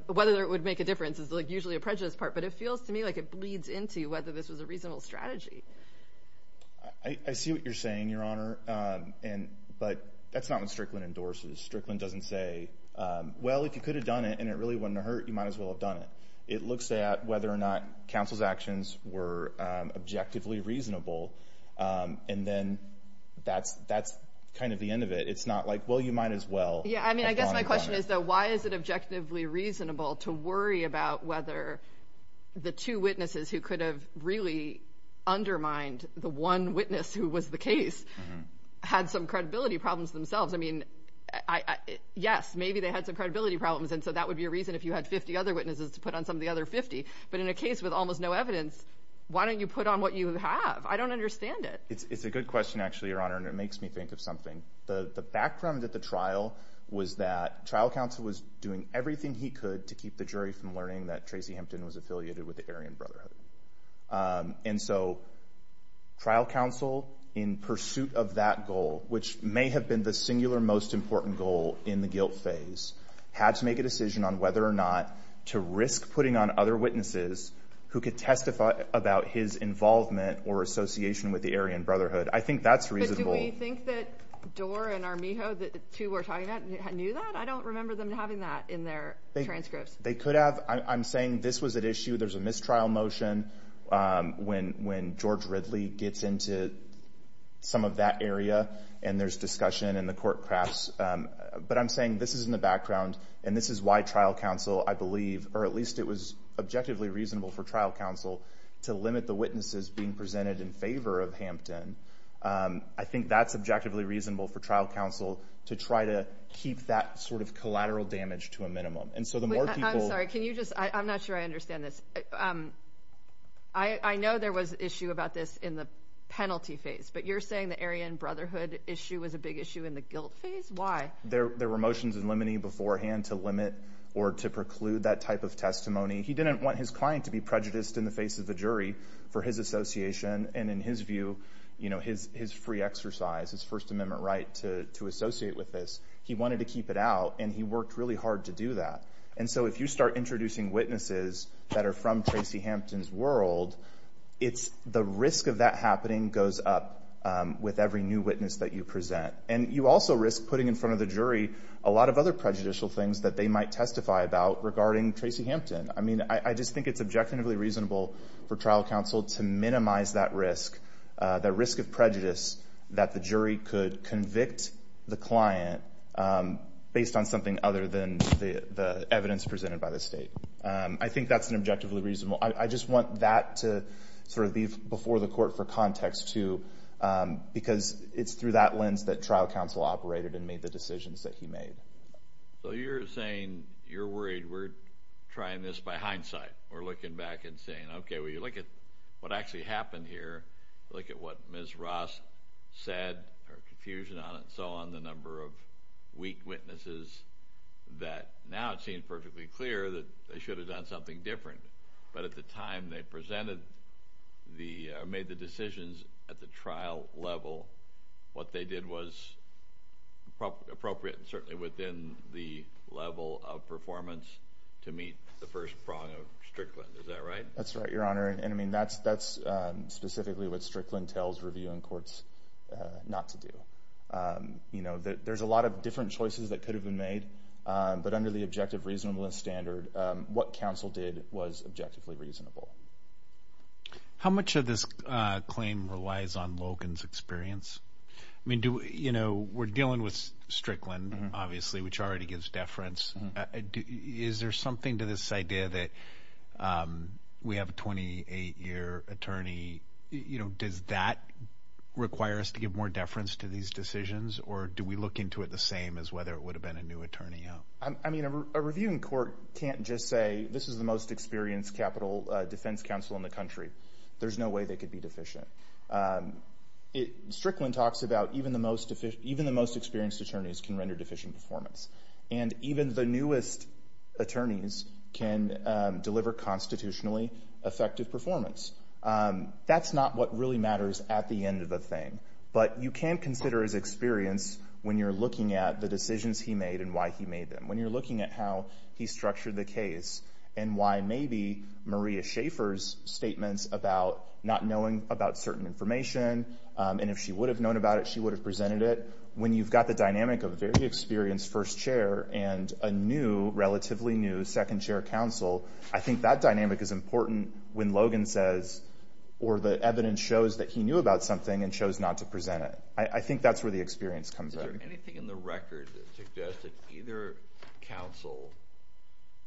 whether it would make a difference is usually a prejudice part. But it feels to me like it bleeds into whether this was a reasonable strategy. I see what you're saying, Your Honor. But that's not what Strickland endorses. Strickland doesn't say, well, if you could have done it and it really wouldn't hurt, you might as well have done it. It looks at whether or not counsel's actions were objectively reasonable. And then that's kind of the end of it. It's not like, well, you might as well. Yeah, I mean, I guess my question is, why is it objectively reasonable to worry about whether the two witnesses who could have really undermined the one witness who was the case had some credibility problems themselves? I mean, yes, maybe they had some credibility problems. And so that would be a reason if you had 50 other witnesses to put on some of the other 50. But in a case with almost no evidence, why don't you put on what you have? I don't understand it. It's a good question, actually, Your Honor. And it makes me think of something. The background at the trial was that trial counsel was doing everything he could to keep the jury from learning that Tracy Hempton was affiliated with the Aryan Brotherhood. And so trial counsel, in pursuit of that goal, which may have been the singular most important goal in the guilt phase, had to make a decision on whether or not to risk putting on other witnesses who could testify about his involvement or association with the Aryan Brotherhood. I think that's reasonable. Do you think that Doar and Armijo, the two we're talking about, knew that? I don't remember them having that in their transcripts. They could have. I'm saying this was at issue. There's a mistrial motion when George Ridley gets into some of that area. And there's discussion in the court press. But I'm saying this is in the background. And this is why trial counsel, I believe, or at least it was objectively reasonable for trial counsel to limit the witnesses being presented in favor of Hempton. I think that's objectively reasonable for trial counsel to try to keep that sort of collateral damage to a minimum. And so the more people... I'm sorry, can you just... I'm not sure I understand this. I know there was an issue about this in the penalty phase, but you're saying the Aryan Brotherhood issue was a big issue in the guilt phase? Why? There were motions in limine beforehand to limit or to preclude that type of testimony. He didn't want his client to be prejudiced in the face of the jury for his association. And in his view, his free exercise, his First Amendment right to associate with this, he wanted to keep it out and he worked really hard to do that. And so if you start introducing witnesses that are from Tracy Hempton's world, it's the risk of that happening goes up with every new witness that you present. And you also risk putting in front of the jury a lot of other prejudicial things that they might testify about regarding Tracy Hempton. I mean, I just think it's objectively reasonable for trial counsel to minimize that risk, the risk of prejudice that the jury could convict the client based on something other than the evidence presented by the state. I think that's an objectively reasonable. I just want that to sort of be before the court for context too, because it's through that lens that trial counsel operated and made the decisions that he made. So you're saying you're worried we're trying this by hindsight or looking back and saying, OK, well, you look at what actually happened here. Look at what Ms. Ross said or confusion on it. So on the number of weak witnesses that now it seems perfectly clear that they should have done something different. But at the time they presented the made the decisions at the trial level, what they did was appropriate and certainly within the level of performance to meet the first prong of Strickland. Is that right? That's right, Your Honor. And I mean, that's specifically what Strickland tells reviewing courts not to do. You know, there's a lot of different choices that could have been made, but under the objective reasonableness standard, what counsel did was objectively reasonable. How much of this claim relies on Logan's experience? I mean, you know, we're dealing with Strickland, obviously, which already gives deference. Is there something to this idea that we have a 28 year attorney? You know, does that require us to give more deference to these decisions? Or do we look into it the same as whether it would have been a new attorney? I mean, a reviewing court can't just say this is the most experienced capital defense counsel in the country. There's no way they could be deficient. Strickland talks about even the most, even the most experienced attorneys can render deficient performance. And even the newest attorneys can deliver constitutionally effective performance. That's not what really matters at the end of the thing. But you can consider his experience when you're looking at the decisions he made and why he made them. When you're looking at how he structured the case and why maybe Maria Schaffer's statements about not knowing about certain information, and if she would have known about it, she would have presented it. When you've got the dynamic of a very experienced first chair and a new, relatively new, second chair counsel, I think that dynamic is important when Logan says, or the evidence shows that he knew about something and chose not to present it. I think that's where the experience comes out. Is there anything in the record that suggested either counsel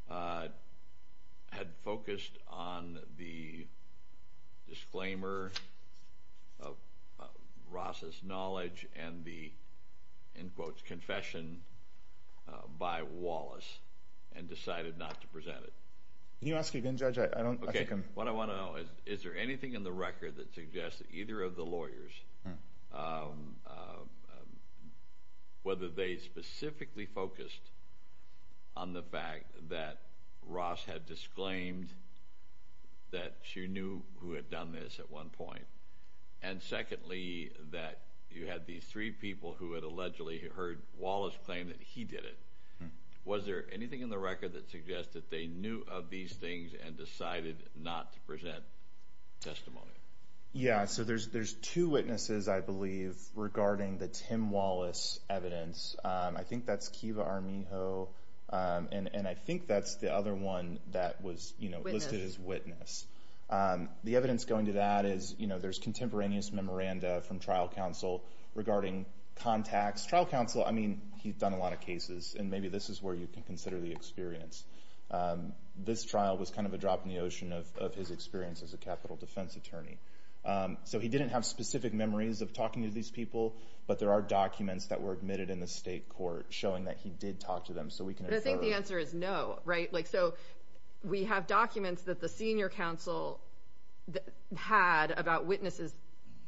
had focused on the disclaimer of Ross's knowledge and the, in quotes, confession by Wallace and decided not to present it? Can you ask again, Judge? What I want to know is, is there anything in the record that suggests that either of the lawyers, whether they specifically focused on the fact that Ross had disclaimed that she knew who had done this at one point, and secondly, that you had these three people who had allegedly heard Wallace claim that he did it. Was there anything in the record that suggests that they knew of these things and decided not to present testimony? Yeah. So there's two witnesses, I believe, regarding the Tim Wallace evidence. I think that's Kiva Arminjo, and I think that's the other one that was listed as witness. The evidence going to that is, there's contemporaneous memoranda from trial counsel regarding contacts. Trial counsel, I mean, he's done a lot of cases and maybe this is where you can consider the experience. This trial was kind of a drop in the ocean of his experience as a capital defense attorney. So he didn't have specific memories of talking to these people, but there are documents that were admitted in the state court showing that he did talk to them. So we can- I think the answer is no, right? Like, so we have documents that the senior counsel had about witnesses,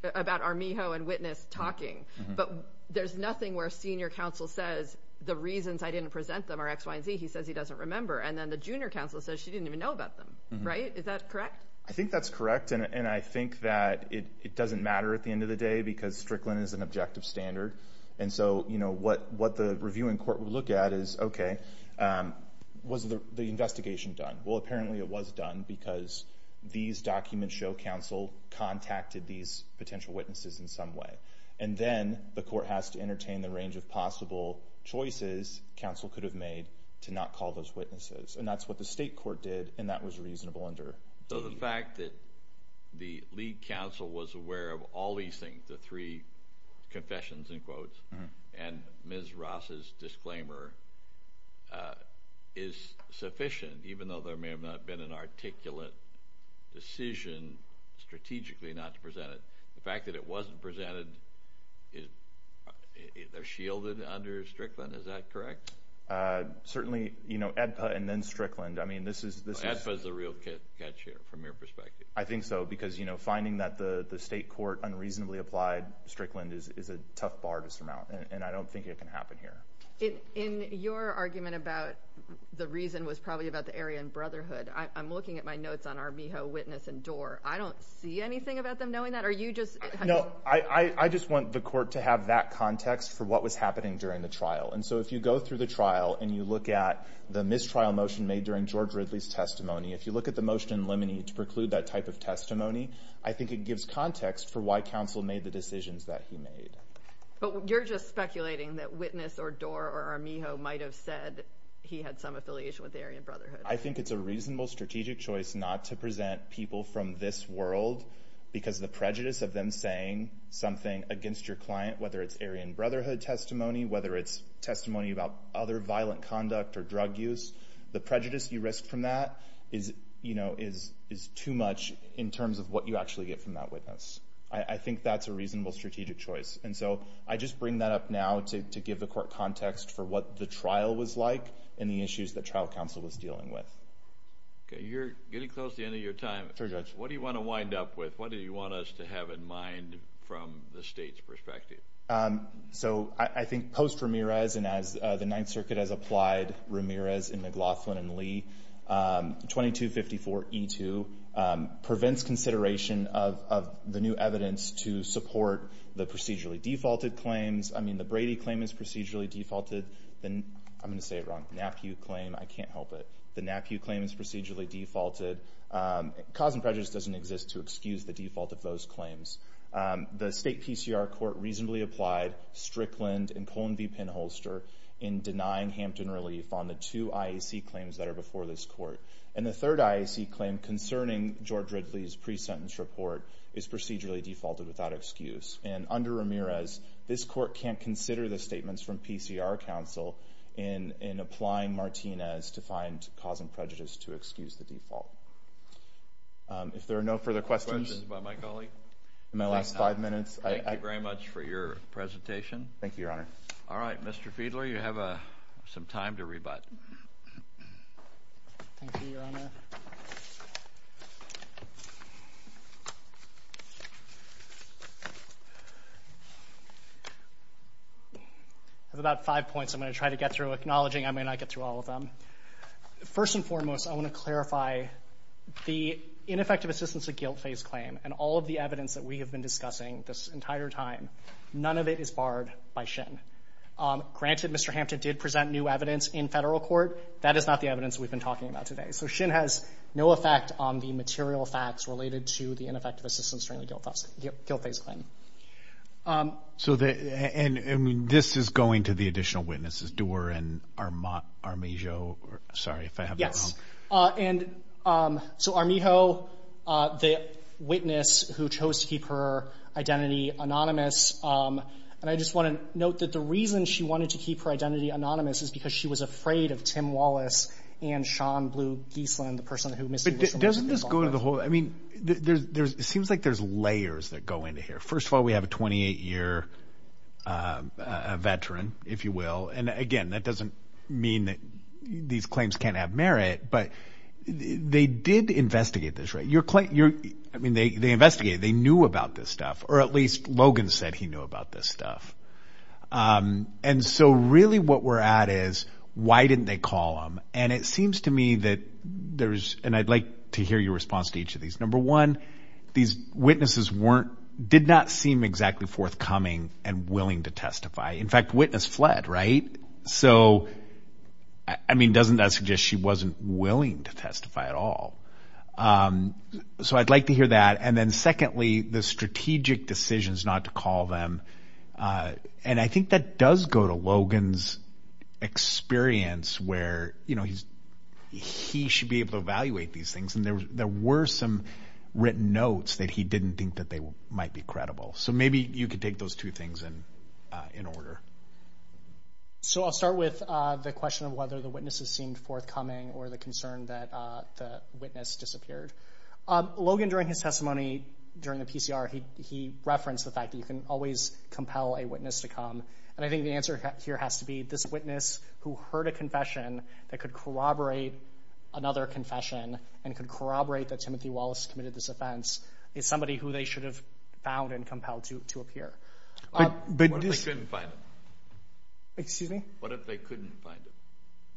about Arminjo and witness talking, but there's nothing where a senior counsel says the reasons I didn't present them are X, Y, and Z. He says he doesn't remember. And then the junior counsel says she didn't even know about them, right? Is that correct? I think that's correct. And I think that it doesn't matter at the end of the day because Strickland is an objective standard. And so what the reviewing court would look at is, okay, was the investigation done? Well, apparently it was done because these documents show counsel contacted these potential witnesses in some way. And then the court has to entertain the range of possible choices counsel could have made to not call those witnesses. And that's what the state court did. And that was reasonable under- So the fact that the lead counsel was aware of all these things, the three confessions in quotes, and Ms. Ross's disclaimer is sufficient, even though there may have not been an articulate decision strategically not to present it. The fact that it wasn't presented is shielded under Strickland. Is that correct? Certainly, you know, AEDPA and then Strickland. I mean, this is- AEDPA is the real catch here from your perspective. I think so, because, you know, finding that the state court unreasonably applied Strickland is a tough bar to surmount. And I don't think it can happen here. In your argument about the reason was probably about the Aryan Brotherhood. I'm looking at my notes on our Miho witness and Dorr. I don't see anything about them knowing that. Are you just- I just want the court to have that context for what was happening during the trial. And so if you go through the trial and you look at the mistrial motion made during George Ridley's testimony, if you look at the motion in Lemony to preclude that type of testimony, I think it gives context for why counsel made the decisions that he made. But you're just speculating that witness or Dorr or Miho might have said he had some affiliation with the Aryan Brotherhood. I think it's a reasonable strategic choice not to present people from this world because the prejudice of them saying something against your client, whether it's Aryan Brotherhood testimony, whether it's testimony about other violent conduct or drug use, the prejudice you risk from that is too much in terms of what you actually get from that witness. I think that's a reasonable strategic choice. And so I just bring that up now to give the court context for what the trial was like and the issues that trial counsel was dealing with. OK, you're getting close to the end of your time. Sure, Judge. What do you want to wind up with? What do you want us to have in mind from the state's perspective? So I think post Ramirez and as the Ninth Circuit has applied Ramirez and McLaughlin and Lee, 2254E2 prevents consideration of the new evidence to support the procedurally defaulted claims. I mean, the Brady claim is procedurally defaulted. Then I'm going to say it wrong. NAPU claim. I can't help it. The NAPU claim is procedurally defaulted. Cause and prejudice doesn't exist to excuse the default of those claims. The state PCR court reasonably applied Strickland and Cullen v. Pinholster in denying Hampton relief on the two IAC claims that are before this court. And the third IAC claim concerning George Ridley's pre-sentence report is procedurally defaulted without excuse. And under Ramirez, this court can't consider the statements from PCR counsel in applying Martinez to find cause and prejudice to excuse the default. If there are no further questions. Questions by my colleague. In my last five minutes. Thank you very much for your presentation. Thank you, Your Honor. All right, Mr. Fiedler, you have some time to rebut. Thank you, Your Honor. I have about five points I'm going to try to get through acknowledging I may not get through all of them. First and foremost, I want to clarify the ineffective assistance of guilt phase claim and all of the evidence that we have been discussing this entire time. None of it is barred by Shin. Granted, Mr. Hampton did present new evidence in federal court. That is not the evidence we've been talking about today. So Shin has no effect on the material facts related to the ineffective assistance during the guilt phase claim. So this is going to the additional witnesses Dewar and Armijo. Sorry if I have that wrong. And so Armijo, the witness who chose to keep her identity anonymous. And I just want to note that the reason she wanted to keep her identity anonymous is because she was afraid of Tim Wallace and Sean Blue Giesland, the person who... Doesn't this go to the whole? I mean, there's it seems like there's layers that go into here. First of all, we have a 28 year veteran, if you will. And again, that doesn't mean that these claims can't have merit. But they did investigate this, right? I mean, they investigated. They knew about this stuff, or at least Logan said he knew about this stuff. And so really what we're at is why didn't they call him? And it seems to me that there's and I'd like to hear your response to each of these. Number one, these witnesses did not seem exactly forthcoming and willing to testify. In fact, witness fled, right? So I mean, doesn't that suggest she wasn't willing to testify at all? So I'd like to hear that. And then secondly, the strategic decisions not to call them. And I think that does go to Logan's experience where he should be able to evaluate these things. And there were some written notes that he didn't think that they might be credible. So maybe you could take those two things in order. So I'll start with the question of whether the witnesses seemed forthcoming or the concern that the witness disappeared. Logan, during his testimony, during the PCR, he referenced the fact that you can always compel a witness to come. And I think the answer here has to be this witness who heard a confession that could corroborate another confession and could corroborate that Timothy Wallace committed this offense is somebody who they should have found and compelled to appear. What if they couldn't find him? Excuse me? What if they couldn't find him?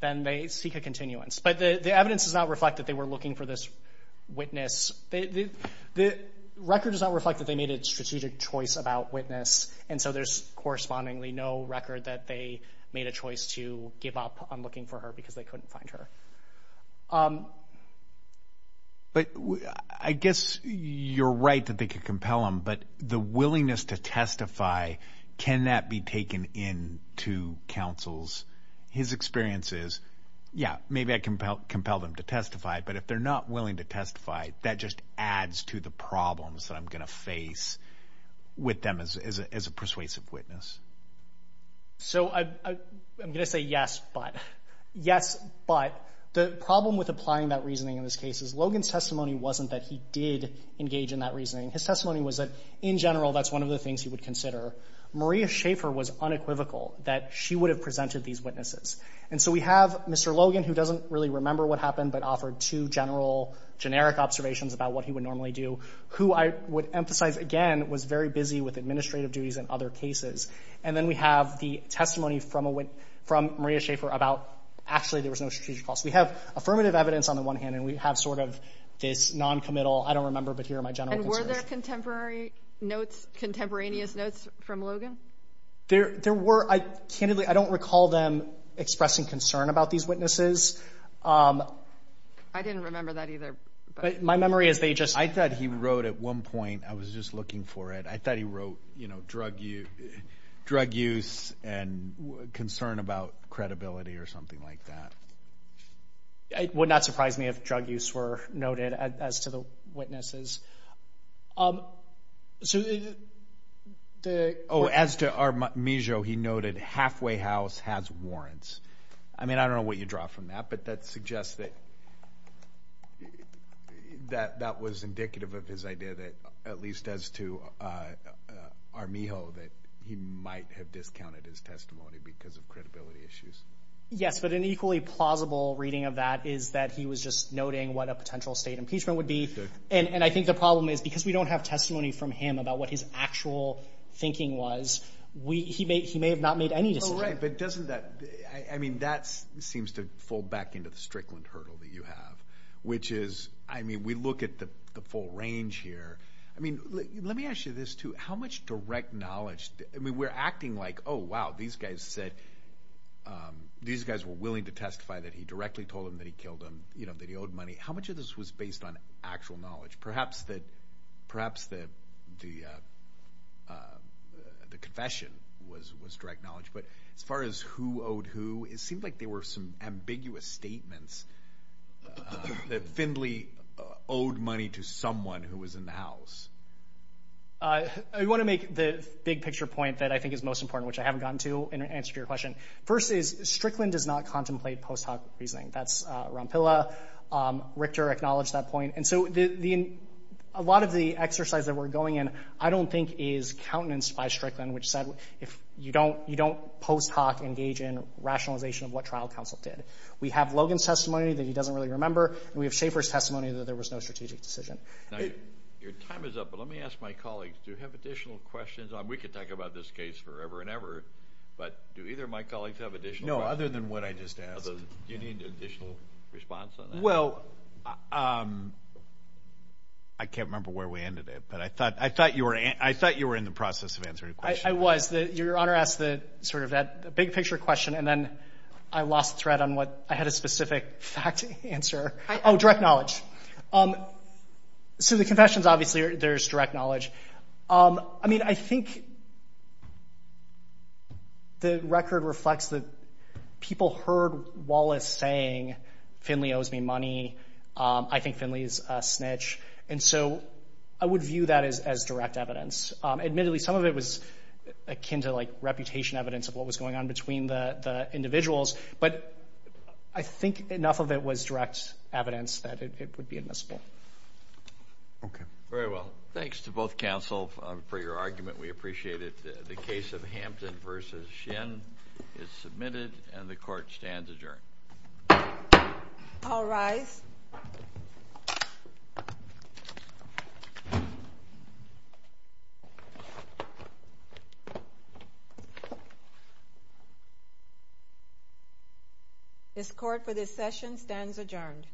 Then they seek a continuance. But the evidence does not reflect that they were looking for this witness. The record does not reflect that they made a strategic choice about witness. And so there's correspondingly no record that they made a choice to give up on looking for her because they couldn't find her. But I guess you're right that they could compel him. But the willingness to testify, can that be taken into counsel's his experiences? Yeah, maybe I can compel them to testify. But if they're not willing to testify, that just adds to the problems that I'm going to face with them as a persuasive witness. So I'm going to say yes. But yes, but the problem with applying that reasoning in this case is Logan's testimony wasn't that he did engage in that reasoning. His testimony was that in general, that's one of the things he would consider. Maria Schaefer was unequivocal that she would have presented these witnesses. And so we have Mr. Logan, who doesn't really remember what happened, but offered two general, generic observations about what he would normally do, who I would emphasize, again, was very busy with administrative duties in other cases. And then we have the testimony from Maria Schaefer about actually there was no strategic cost. We have affirmative evidence on the one hand, and we have sort of this noncommittal, I don't remember, but here are my general concerns. And were there contemporary notes, contemporaneous notes from Logan? There were. Candidly, I don't recall them expressing concern about these witnesses. I didn't remember that either. But my memory is they just... I thought he wrote at one point, I was just looking for it. I thought he wrote, you know, drug use and concern about credibility or something like that. It would not surprise me if drug use were noted as to the witnesses. Oh, as to Armijo, he noted halfway house has warrants. I mean, I don't know what you draw from that, but that suggests that that was indicative of his idea that at least as to Armijo, that he might have discounted his testimony because of credibility issues. Yes, but an equally plausible reading of that is that he was just noting what a potential state impeachment would be. And I think the problem is because we don't have testimony from him about what his actual thinking was, he may have not made any decision. Oh, right, but doesn't that... I mean, that seems to fold back into the Strickland hurdle that you have, which is, I mean, we look at the full range here. I mean, let me ask you this too. How much direct knowledge... I mean, we're acting like, oh, wow, these guys said... These guys were willing to testify that he directly told them that he killed him, you know, that he owed money. How much of this was based on actual knowledge? Perhaps that... Perhaps that the... The confession was direct knowledge, but as far as who owed who, it seemed like there were some ambiguous statements that Findlay owed money to someone who was in the house. I want to make the big picture point that I think is most important, which I haven't gotten to in answer to your question. First is Strickland does not contemplate post hoc reasoning. That's Rompilla. Richter acknowledged that point. And so a lot of the exercise that we're going in, I don't think is countenanced by Strickland, which said if you don't post hoc engage in rationalization of what trial counsel did. We have Logan's testimony that he doesn't really remember. And we have Schaefer's testimony that there was no strategic decision. Now, your time is up, but let me ask my colleagues, do you have additional questions? We could talk about this case forever and ever, but do either of my colleagues have additional questions? No, other than what I just asked. Do you need additional response on that? Well, I can't remember where we ended it, but I thought I thought you were. I thought you were in the process of answering. I was that your honor asked the sort of that big picture question. And then I lost thread on what I had a specific fact answer. Oh, direct knowledge. So the confessions, obviously, there's direct knowledge. I mean, I think. The record reflects that people heard Wallace saying Finley owes me money. I think Finley is a snitch. And so I would view that as direct evidence. Admittedly, some of it was akin to like reputation evidence of what was going on between the individuals. But I think enough of it was direct evidence that it would be admissible. OK, very well. Thanks to both counsel for your argument. We appreciate it. The case of Hampton versus Shin is submitted and the court stands adjourned. I'll rise. This court for this session stands adjourned.